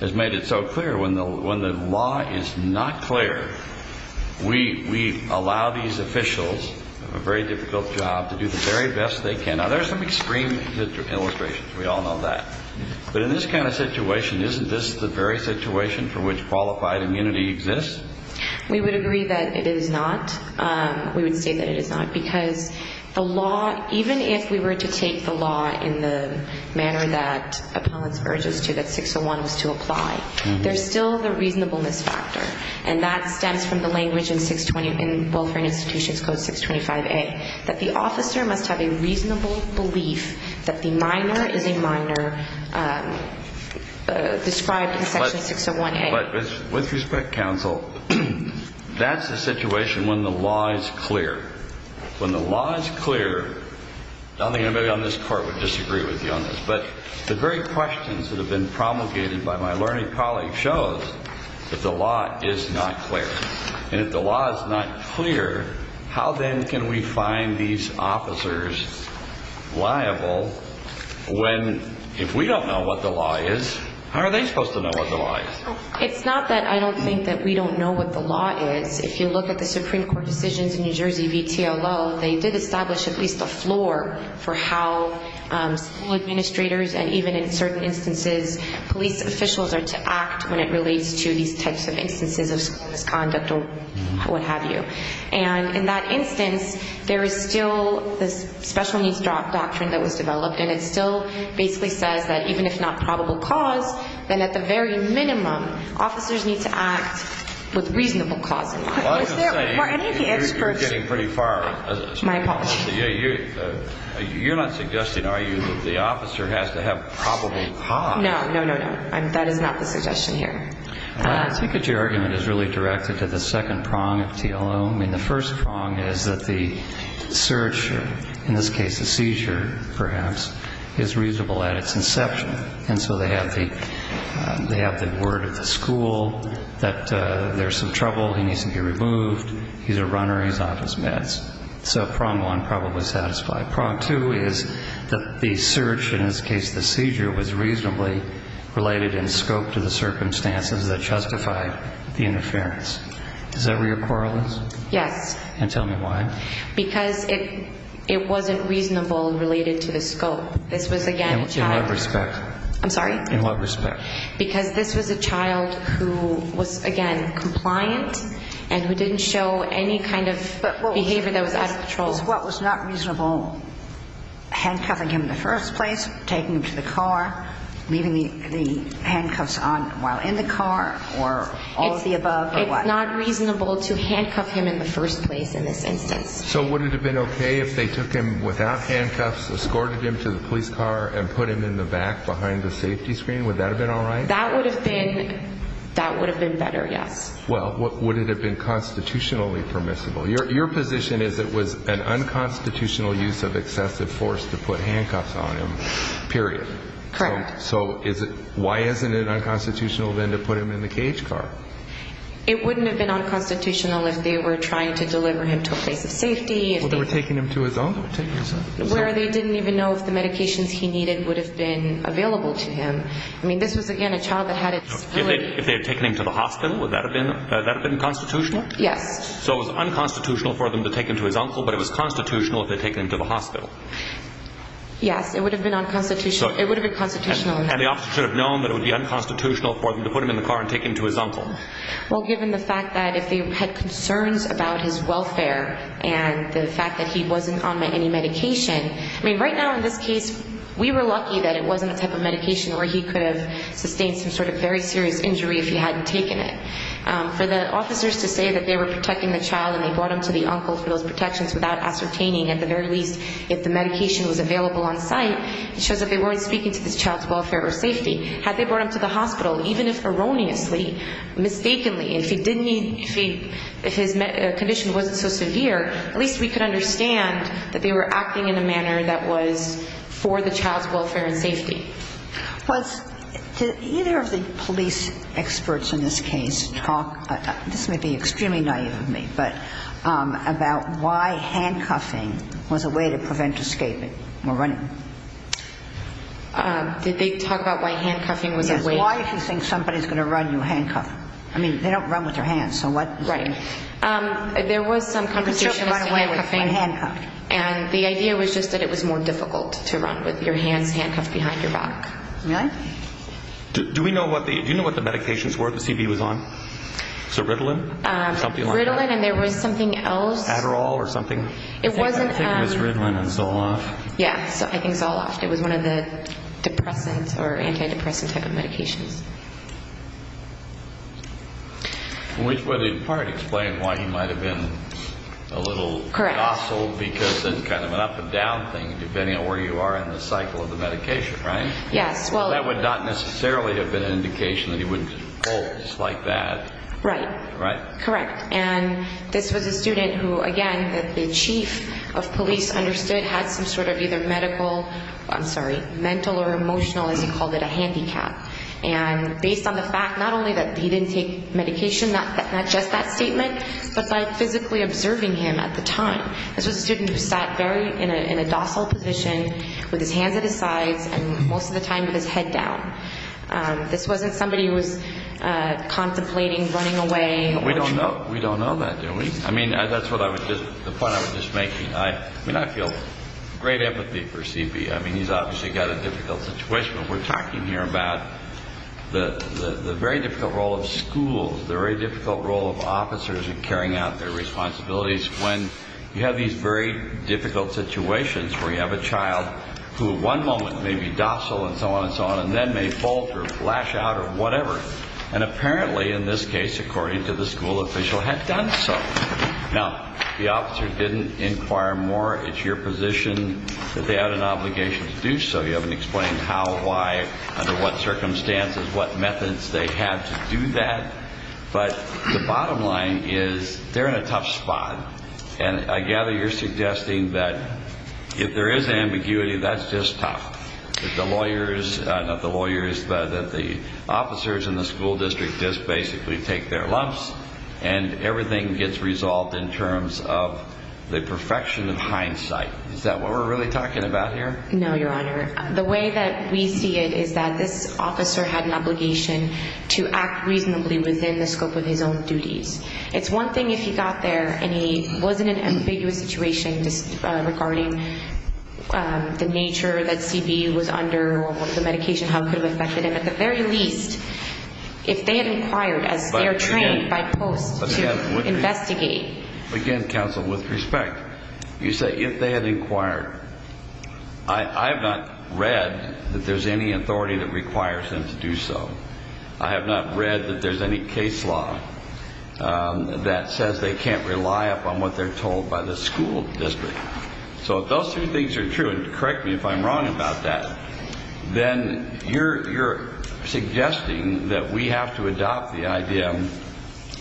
has made it so clear? When the law is not clear, we allow these officials, who have a very difficult job, to do the very best they can. Now, there are some extreme illustrations. We all know that. But in this kind of situation, isn't this the very situation for which qualified immunity exists? We would agree that it is not. We would say that it is not. Because the law, even if we were to take the law in the manner that opponents urged us to, that 601 was to apply, there's still the reasonableness factor. And that stems from the language in 620, in Wilfrid Institution Code 625A, that the officer must have a reasonable belief that the minor is a minor, described in Section 601A. But with respect, counsel, that's the situation when the law is clear. When the law is clear, I don't think anybody on this Court would disagree with you on this, but the very questions that have been promulgated by my learning colleague shows that the law is not clear. And if the law is not clear, how then can we find these officers liable when, if we don't know what the law is, how are they supposed to know what the law is? It's not that I don't think that we don't know what the law is. If you look at the Supreme Court decisions in New Jersey v. TOL, they did establish at least a floor for how school administrators and even in certain instances police officials are to act when it relates to these types of instances of misconduct or what have you. And in that instance, there is still the special-needs drop doctrine that was developed, and it still basically says that even if not probable cause, then at the very minimum officers need to act with reasonable causes. You're getting pretty far. My apologies. You're not suggesting, are you, that the officer has to have probable cause? No, no, no, no. That is not the suggestion here. I think that your argument is really directed to the second prong of TLO. I mean, the first prong is that the search, in this case a seizure perhaps, is reasonable at its inception. And so they have the word at the school that there's some trouble, he needs to be removed, he's a runner, he's off his meds. So prong one, probably satisfied. And prong two is that the search, in this case the seizure, was reasonably related in scope to the circumstances that justified the interference. Is that where your quarrel is? Yes. And tell me why. Because it wasn't reasonable related to the scope. In what respect? I'm sorry? In what respect? Because this was a child who was, again, compliant and who didn't show any kind of behavior that was out of control. So what was not reasonable, handcuffing him in the first place, taking him to the car, leaving the handcuffs on while in the car, or all of the above? It's not reasonable to handcuff him in the first place in this instance. So would it have been okay if they took him without handcuffs, escorted him to the police car, and put him in the back behind the safety screen? Would that have been all right? That would have been better, yes. Well, would it have been constitutionally permissible? Your position is that it was an unconstitutional use of excessive force to put handcuffs on him, period. Correct. So why isn't it unconstitutional, then, to put him in the cage car? It wouldn't have been unconstitutional if they were trying to deliver him to a place of safety. If they were taking him to his office? Well, they didn't even know if the medications he needed would have been available to him. I mean, this was, again, a child that had a disability. If they had taken him to the hospital, would that have been constitutional? Yes. So it was unconstitutional for them to take him to his uncle, but it was constitutional to take him to the hospital? Yes, it would have been constitutional. And the officer should have known that it would be unconstitutional for them to put him in the car and take him to his uncle. Well, given the fact that if they had concerns about his welfare and the fact that he wasn't on any medication, I mean, right now in this case, we were lucky that it wasn't the type of medication where he could have sustained some sort of very serious injury if he hadn't taken it. For the officers to say that they were protecting the child and they brought him to the uncle for those protections without ascertaining at the very least if the medication was available on site, shows that they weren't speaking to the child's welfare or safety. Had they brought him to the hospital, even if erroneously, mistakenly, if he didn't need to see that his condition wasn't so severe, at least we could understand that they were acting in a manner that was for the child's welfare and safety. Did either of the police experts in this case talk about, this may be extremely naive of me, but about why handcuffing was a way to prevent escape or running? Did they talk about why handcuffing was a way? Why do you think somebody is going to run you a handcuff? I mean, they don't run with their hands, so what does that mean? There was some conversation about handcuffing. And the idea was just that it was more difficult to run with your hand handcuffed behind your back. Do you know what the medications were the CD was on? Ceridoline? Ceridoline and there was something else. Adderall or something? It wasn't. I think it was Ritalin and Zoloft. Yes, I think Zoloft. It was one of the depressants or antidepressant type of medications. Which would in part explain why you might have been a little hostile, because there's kind of an up and down thing, depending on where you are in the cycle of the medication, right? Yes. That would not necessarily have been an indication that he would hold like that. Right. Right? Correct. And this was a student who, again, as the chief of police understood, had some sort of either medical, I'm sorry, mental or emotional, and he called it a handicap. And based on the fact not only that he didn't take medication, that's not just that statement, but by physically observing him at the time. This was a student who sat down in a docile position with his hands at his thighs and most of the time with his head down. This wasn't somebody who was contemplating running away. We don't know that, do we? I mean, that's what I was just, the point I was just making. I feel great empathy for CB. I mean, he's obviously got a difficult situation, but we're talking here about the very difficult role of schools, the very difficult role of officers in carrying out their responsibilities when you have these very difficult situations where you have a child who at one moment may be docile and so on and so on and then may falter, flash out, or whatever. And apparently in this case, according to the school official, had done so. Now, the officer didn't inquire more into your position that they had an obligation to do so. We haven't explained how, why, under what circumstances, what methods they had to do that. But the bottom line is they're in a tough spot. And I gather you're suggesting that if there is ambiguity, that's just tough. If the lawyers, not the lawyers, but the officers in the school district just basically take their lumps and everything gets resolved in terms of the perfection of hindsight. Is that what we're really talking about here? No, Your Honor. The way that we see it is that this officer had an obligation to act reasonably within the scope of his own duties. It's one thing if he's out there and he was in an ambiguous situation regarding the nature that C.B.U. was under or what the medication health could have affected him, but at the very least, if they had inquired as they're trained, by post, to investigate. Again, counsel, with respect, you say, if they had inquired, I have not read that there's any authority that requires them to do so. I have not read that there's any case law that says they can't rely upon what they're told by the school district. So if those three things are true, and correct me if I'm wrong about that, then you're suggesting that we have to adopt the idea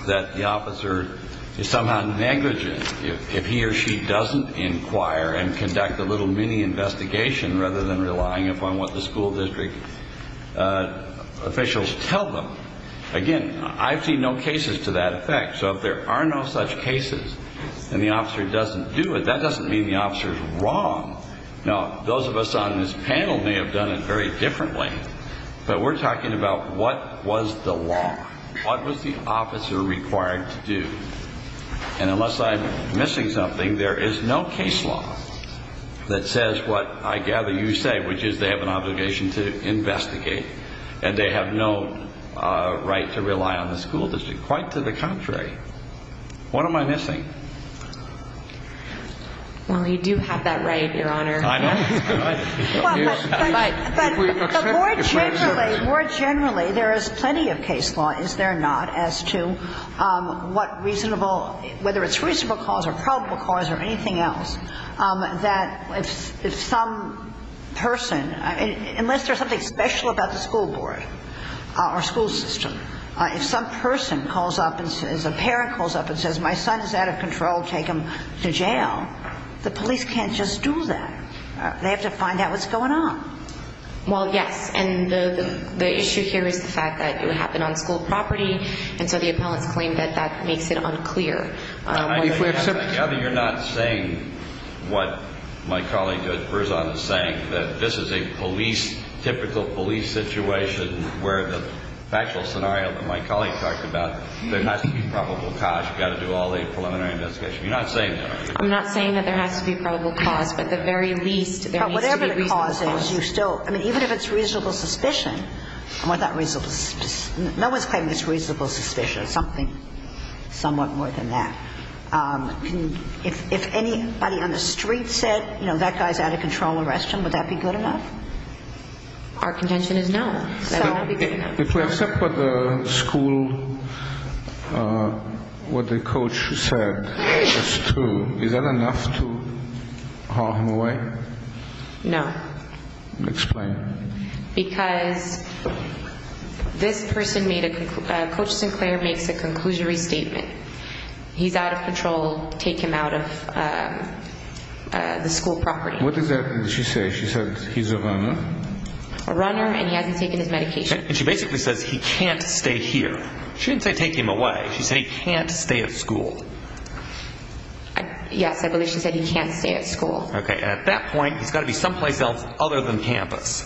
that the officer is somehow negligent if he or she doesn't inquire and conduct a little mini investigation rather than relying upon what the school district officials tell them. Again, I see no cases to that effect. So if there are no such cases and the officer doesn't do it, that doesn't mean the officer is wrong. Now, those of us on this panel may have done it very differently, but we're talking about what was the law. What was the officer required to do? And unless I'm missing something, there is no case law that says what I gather you say, which is they have an obligation to investigate and they have no right to rely on the school district. Quite to the contrary. What am I missing? We do have that right, Your Honor. I know. More generally, there is plenty of case law, is there not, as to what reasonable, whether it's reasonable cause or probable cause or anything else that if some person, unless there's something special about the school board or school system, if some person calls up, if a parent calls up and says, my son is out of control, take him to jail, the police can't just do that. They have to find out what's going on. Well, yes. And the issue here is the fact that it happened on school property and so the appellant's claim that that makes it unclear. I gather you're not saying what my colleague at Frisat is saying, that this is a police, typical police situation where the factual scenario that my colleague talked about, there has to be probable cause. You've got to do all the preliminary investigation. You're not saying that, are you? I'm not saying that there has to be probable cause. But whatever the cause is, you still, I mean, even if it's reasonable suspicion, no one's saying it's reasonable suspicion or something, somewhat more than that. If anybody on the street said, you know, that guy's out of control, arrest him, would that be good enough? Our contention is no. If we accept what the school, what the coach said, that's true, is that enough to call him away? No. Explain. Because this person made a, Coach Sinclair made a conclusionary statement. He's out of control, take him out of the school property. What exactly did she say? She said he's a runner? A runner and he hasn't taken his medication. She basically said he can't stay here. She didn't say take him away. She said he can't stay at school. Yes, I believe she said he can't stay at school. Okay. At that point, there's got to be some place else other than campus.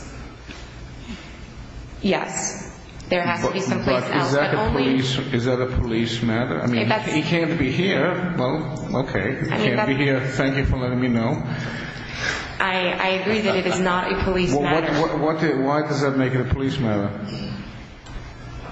Yes. There has to be some place else. Is that a police matter? I mean, he can't be here. Well, okay. He can't be here. Thank you for letting me know. I agree that it is not a police matter. Why does that make it a police matter?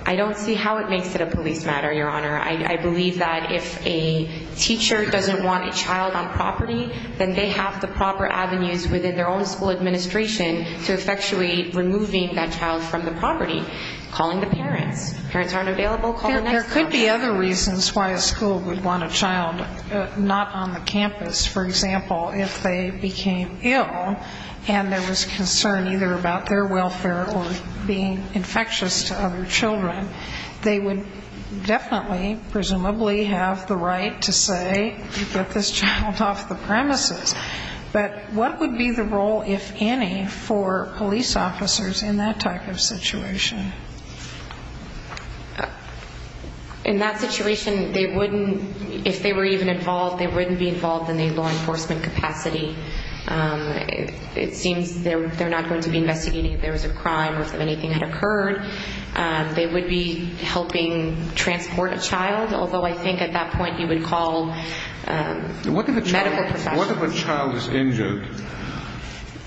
I don't see how it makes it a police matter, Your Honor. I believe that if a teacher doesn't want a child on property, then they have the proper avenues within their own school administration to effectuate removing that child from the property, calling the parents. Parents aren't available? There could be other reasons why a school would want a child not on the campus. For example, if they became ill and there was concern either about their welfare or being infectious to other children, they would definitely presumably have the right to say, you've got this child off the premises. But what would be the role, if any, for police officers in that type of situation? In that situation, if they were even involved, they wouldn't be involved in the law enforcement capacity. They're not going to be investigating if there was a crime or if anything had occurred. They would be helping transport a child, although I think at that point you would call medical professionals. What if a child is injured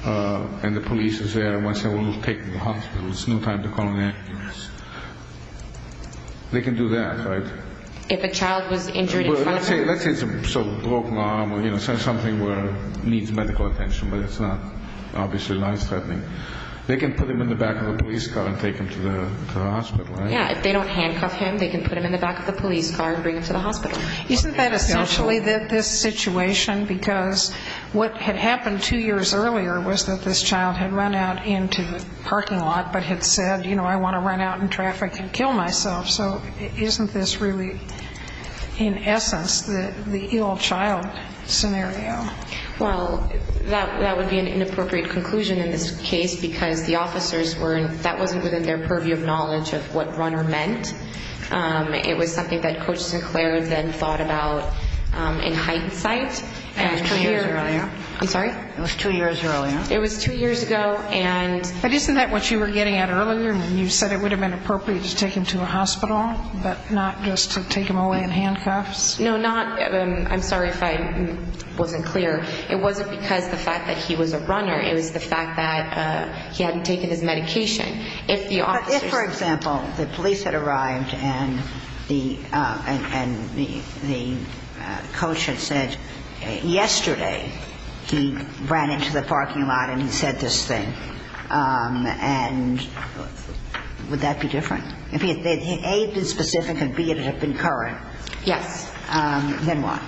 and the police is there and wants someone to take him to the hospital? There's no time to call an ambulance. They can do that, right? If a child is injured, let's say it's a broken arm or something that needs medical attention, but it's obviously not threatening, they can put him in the back of a police car and take him to the hospital, right? Yeah, if they don't handcuff him, they can put him in the back of the police car and bring him to the hospital. Isn't that essentially this situation? Because what had happened two years earlier was that this child had run out into the parking lot but had said, you know, I want to run out in traffic and kill myself. So isn't this really, in essence, the ill child scenario? Well, that would be an inappropriate conclusion in this case because the officers weren't, that wasn't within their purview of knowledge of what run meant. It was something that Coach LeClaire then thought about in hindsight. That was two years earlier. I'm sorry? It was two years earlier. It was two years ago and... But isn't that what you were getting at earlier when you said it would have been appropriate to take him to the hospital but not just to take him away in handcuffs? No, not, I'm sorry if I wasn't clear. It wasn't because of the fact that he was a runner. It was the fact that he hadn't taken his medication. But if, for example, the police had arrived and the coach had said, yesterday, he ran into the parking lot and he said this thing, and would that be different? If A, it's specific, and B, it had been current, then what?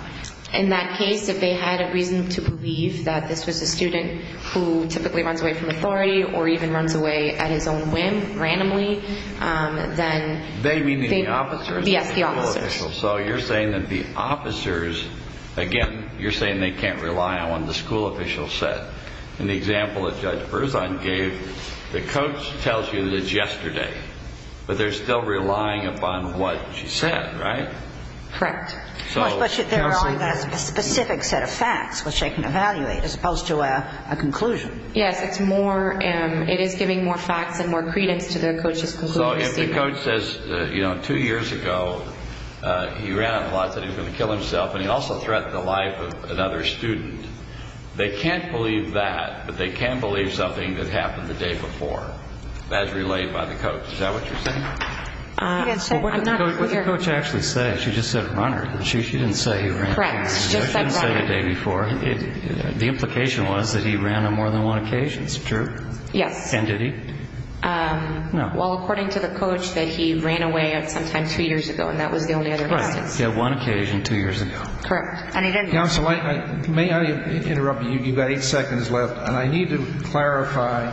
In that case, if they had a reason to believe that this was a student who typically runs away from authority or even runs away at his own whim, randomly, then... Yes, the officers. The school officials. So you're saying that the officers, again, you're saying they can't rely on what the school officials said. In the example that Judge Berzahn gave, the coach tells you that it's yesterday, but they're still relying upon what she said, right? Correct. Especially given that specific set of facts, which they can evaluate, as opposed to a conclusion. Yes, it is giving more facts and more credence to the coach's conclusion. Well, if the coach says, you know, two years ago, he ran a plot that he was going to kill himself, and he also threatened the life of another student, they can't believe that, but they can believe something that happened the day before, as relayed by the coach. Is that what you're saying? What the coach actually said, she just said, runner. She didn't say he ran. Correct. She didn't say he ran the day before. The implication was that he ran on more than one occasion. It's true. Yes. And did he? No. Well, according to the coach, that he ran away sometime two years ago, and that was the only other time. Right. He had one occasion two years ago. Correct. Counsel, may I interrupt you? You've got eight seconds left, and I need to clarify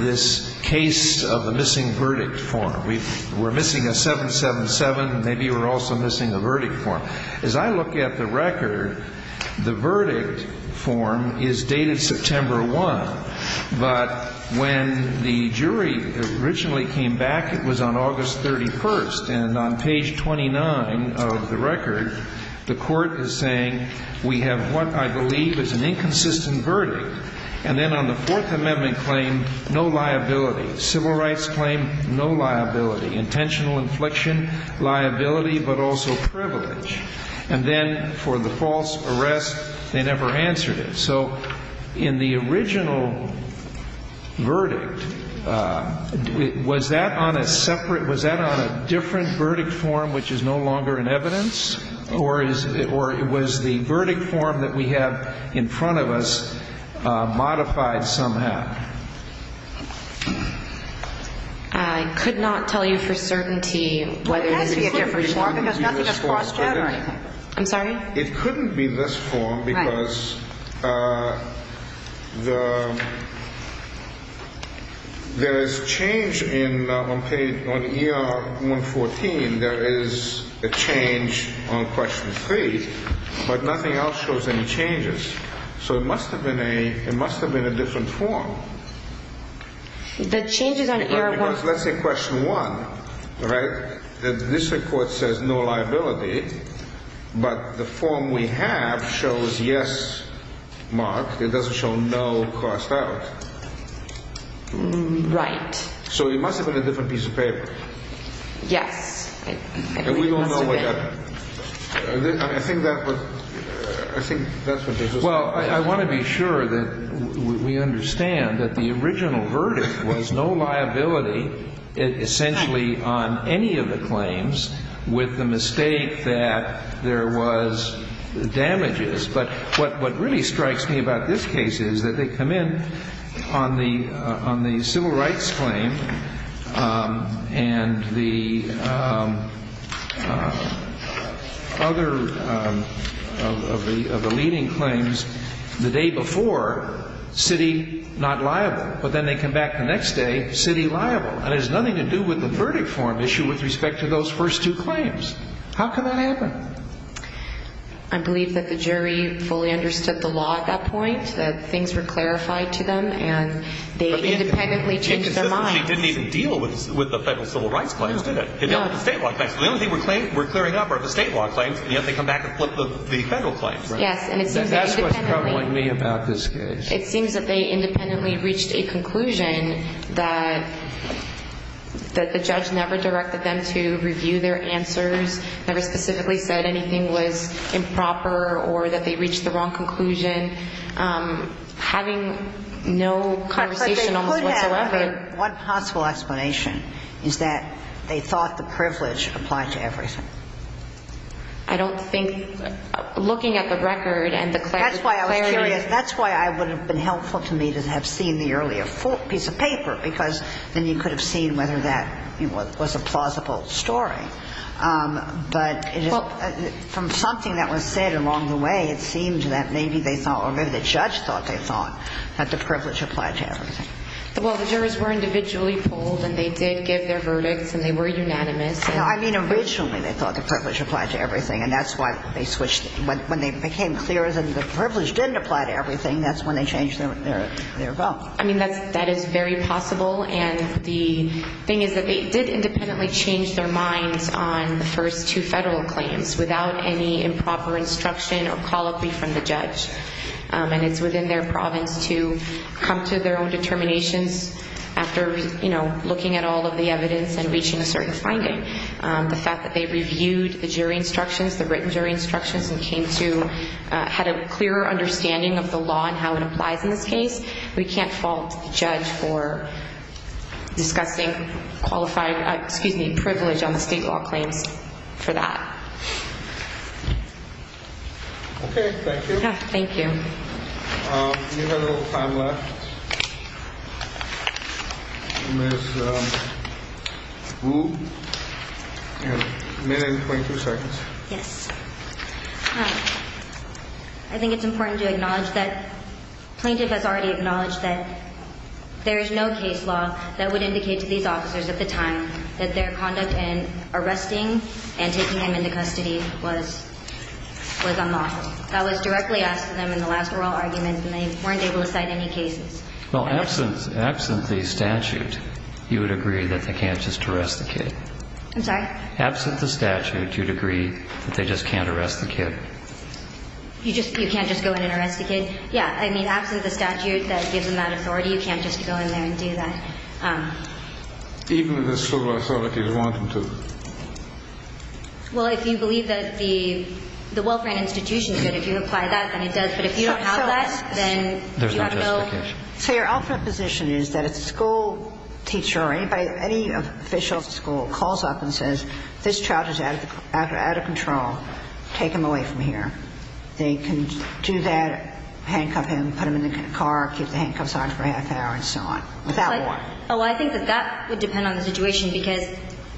this case of the missing verdict form. We're missing a 777, and maybe we're also missing the verdict form. As I look at the record, the verdict form is dated September 1, but when the jury originally came back, it was on August 31, and on page 29 of the record, the court was saying, we have what I believe is an inconsistent verdict. And then on the Fourth Amendment claim, no liability. Civil rights claim, no liability. Intentional inflection, liability, but also privilege. And then for the false arrest, they never answered it. So in the original verdict, was that on a separate, was that on a different verdict form which is no longer in evidence, or was the verdict form that we have in front of us modified somehow? I could not tell you for certainty whether it was a different version. It couldn't be this form, could it? I'm sorry? It couldn't be this form because there is change on ER 114. There is a change on question 3, but nothing else shows any changes. So it must have been a different form. Let's say question 1, right? This report says no liability, but the form we have shows yes marks. It doesn't show no crossed out. Right. So it must have been a different piece of paper. Yeah. And we don't know what happened. Well, I want to be sure that we understand that the original verdict was no liability essentially on any of the claims with the mistake that there was damages. But what really strikes me about this case is that they come in on the civil rights claim and the other of the leading claims the day before, city not liable. But then they come back the next day, city liable. And it has nothing to do with the verdict form issue with respect to those first two claims. How could that happen? I believe that the jury fully understood the law at that point, that things were clarified to them, and they independently changed their minds. They didn't even deal with the federal civil rights claims, did they? They dealt with the state law claims. The only thing we're clearing up are the state law claims, and then they come back and flip the federal claims, right? That's what's troubling me about this case. It seems that they independently reached a conclusion that the judge never directed them to review their answers, never specifically said anything was improper or that they reached the wrong conclusion. Having no conversation on the record. What possible explanation is that they thought the privilege applied to everything? I don't think looking at the record and the criteria. That's why it would have been helpful to me to have seen the earlier piece of paper because then you could have seen whether that was a plausible story. But from something that was said along the way, it seems that maybe they thought or maybe the judge thought they thought that the privilege applied to everything. Well, the jurors were individually polled, and they did give their verdicts, and they were unanimous. I mean, originally they thought the privilege applied to everything, and that's why they switched it. When they became clear that the privilege didn't apply to everything, that's when they changed their vote. I mean, that is very possible, and the thing is that they did independently change their minds on the first two federal claims without any improper instruction or policy from the judge. And it's within their province to come to their own determination after looking at all of the evidence and reaching a certain finding. The fact that they reviewed the jury instructions, the written jury instructions, and came to a clearer understanding of the law and how it applies in this case, we can't fault the judge for discussing qualified, excuse me, privilege on the state law claim for that. That's it. Thank you. Thank you. We have a little time left. Ms. Wu, you have a minute and 20 seconds. Yes. All right. I think it's important to acknowledge that plaintiffs have already acknowledged that there is no case law that would indicate to these officers at the time that their conduct in arresting and taking them into custody was unlawful. I was directly asking them in the last oral argument, and they weren't able to cite any cases. Well, absent the statute, you would agree that they can't just arrest a kid. I'm sorry? Absent the statute, you'd agree that they just can't arrest a kid. You can't just go in and arrest a kid. Yeah, I mean, absent the statute that gives them that authority, you can't just go in there and do that. Even if it's civil authority, they want them to. Well, if you believe that the welfare institution is going to do or apply that, then it does. But if you don't have that, then you have no- There's no justification. So your ultimate position is that if a school teacher or any official at the school calls up and says, this child is out of control, take him away from here. They can do that, handcuff him, put him in a car, keep the handcuffs on for half an hour, and so on. Without warning. Oh, I think that that would depend on the situation, because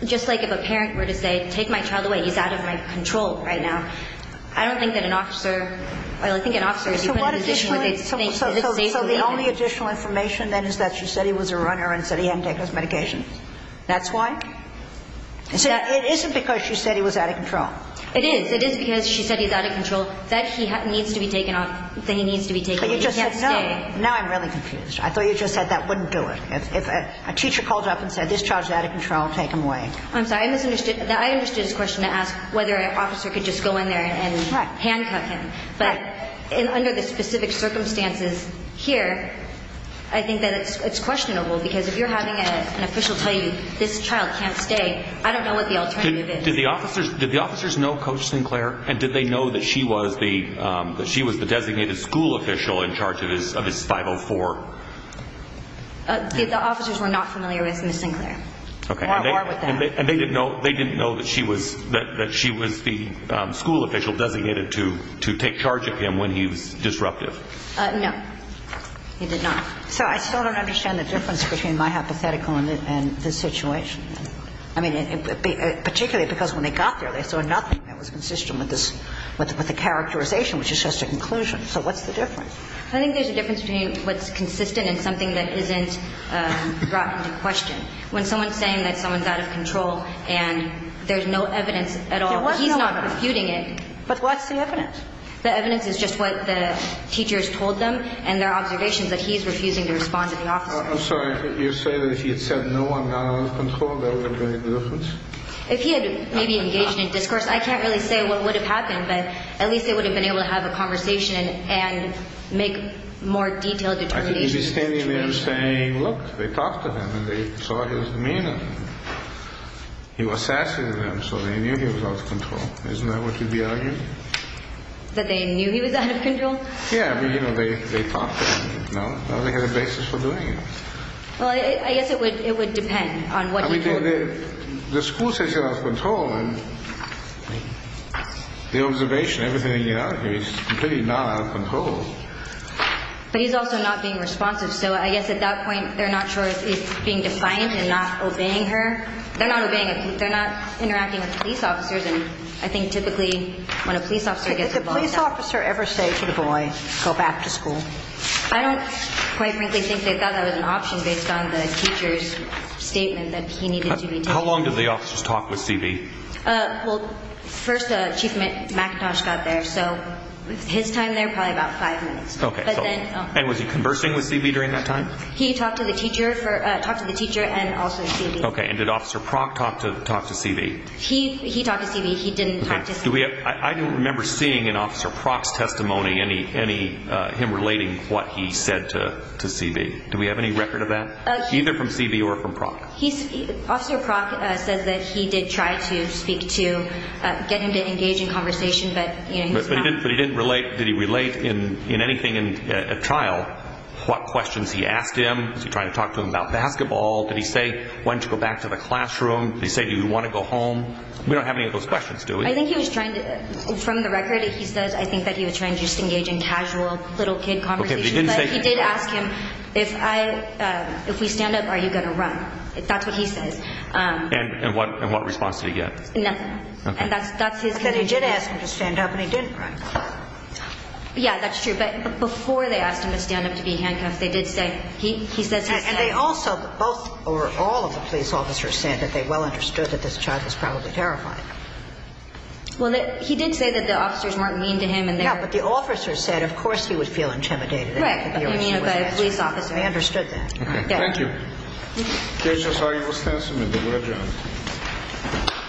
just like if a parent were to say, take my child away, he's out of my control right now. I don't think that an officer, well, I think an officer would be- So the only additional information, then, is that she said he was a runner and said he hadn't taken his medication. That's why? It isn't because she said he was out of control. It is. It is because she said he's out of control. Now I'm really confused. I thought you just said that wouldn't do it. If a teacher called up and said, this child is out of control, take him away. I'm sorry, I misunderstood. I understood the question to ask whether an officer could just go in there and handcuff him. But under the specific circumstances here, I think that it's questionable, because if you're having an official tell you this child can't stay, I don't know what the alternative is. Did the officers know Coach Sinclair? And did they know that she was the designated school official in charge of his 504? The officers were not familiar with Coach Sinclair. Okay. And they didn't know that she was the school official designated to take charge of him when he was disruptive? No. He did not. So I still don't understand the difference between my hypothetical and his situation. I mean, particularly because when they got there, they saw nothing that was consistent with the characterization, which is just a conclusion. So what's the difference? I think there's a difference between what's consistent and something that isn't brought to the question. When someone's saying that someone's out of control and there's no evidence at all, but he's not computing it. But what's the evidence? The evidence is just what the teachers told them and their observations, but he's refusing to respond to the officer. I'm sorry. You're saying that if he had said, no, I'm not out of control, that would have made a difference? If he had maybe engaged in a discourse, I can't really say what would have happened, but at least they would have been able to have a conversation and make more detailed determinations. Are you saying they were saying, look, they talked to him and they saw his demeanor. He was sassy to them, so they knew he was out of control. Isn't that what you'd be arguing? That they knew he was out of control? Yeah, but, you know, they talked to him. No, they had a basis for doing it. Well, I guess it would depend on what he said. I mean, the school says he's out of control, and the observation, everything they get out of it, it's completely not out of control. But he's also not being responsive. So I guess at that point they're not sure if he's being defiant and not obeying her. They're not obeying a police officer. They're not interacting with police officers, and I think typically when a police officer gets involved in that. Did the police officer ever say to the boy, go back to school? I don't quite really think they thought that was an option based on the teacher's statement that he needed to be tested. How long did the officer talk with CB? Well, first Chief McIntosh got there, so his time there, probably about five minutes. Okay, and was he conversing with CB during that time? He talked to the teacher and also CB. Okay, and did Officer Propp talk to CB? He talked to CB. He didn't talk to CB. I don't remember seeing in Officer Propp's testimony him relating what he said to CB. Do we have any record of that, either from CB or from Propp? Officer Propp says that he did try to get him to engage in conversation. But did he relate in anything at trial what questions he asked him? Did he try to talk to him about basketball? Did he say, why don't you go back to the classroom? Did he say, do you want to go home? We don't have any of those questions, do we? I think he was trying to, from the record he says, I think that he was trying to engage in casual little kid conversations. But he did ask him, if we stand up, are you going to run? That's what he said. And what response did he get? Nothing. He said he did ask him to stand up, but he didn't run. Yeah, that's true. But before they asked him to stand up to be handcuffed, they did say, he said that. And they also, both or all of the police officers said that they well understood that this child was probably terrified. Well, he did say that the officers weren't mean to him. Yeah, but the officers said, of course, he would feel intimidated. Right. They understood that. Thank you. Jason Hardy, Wisconsin. We'll be right back.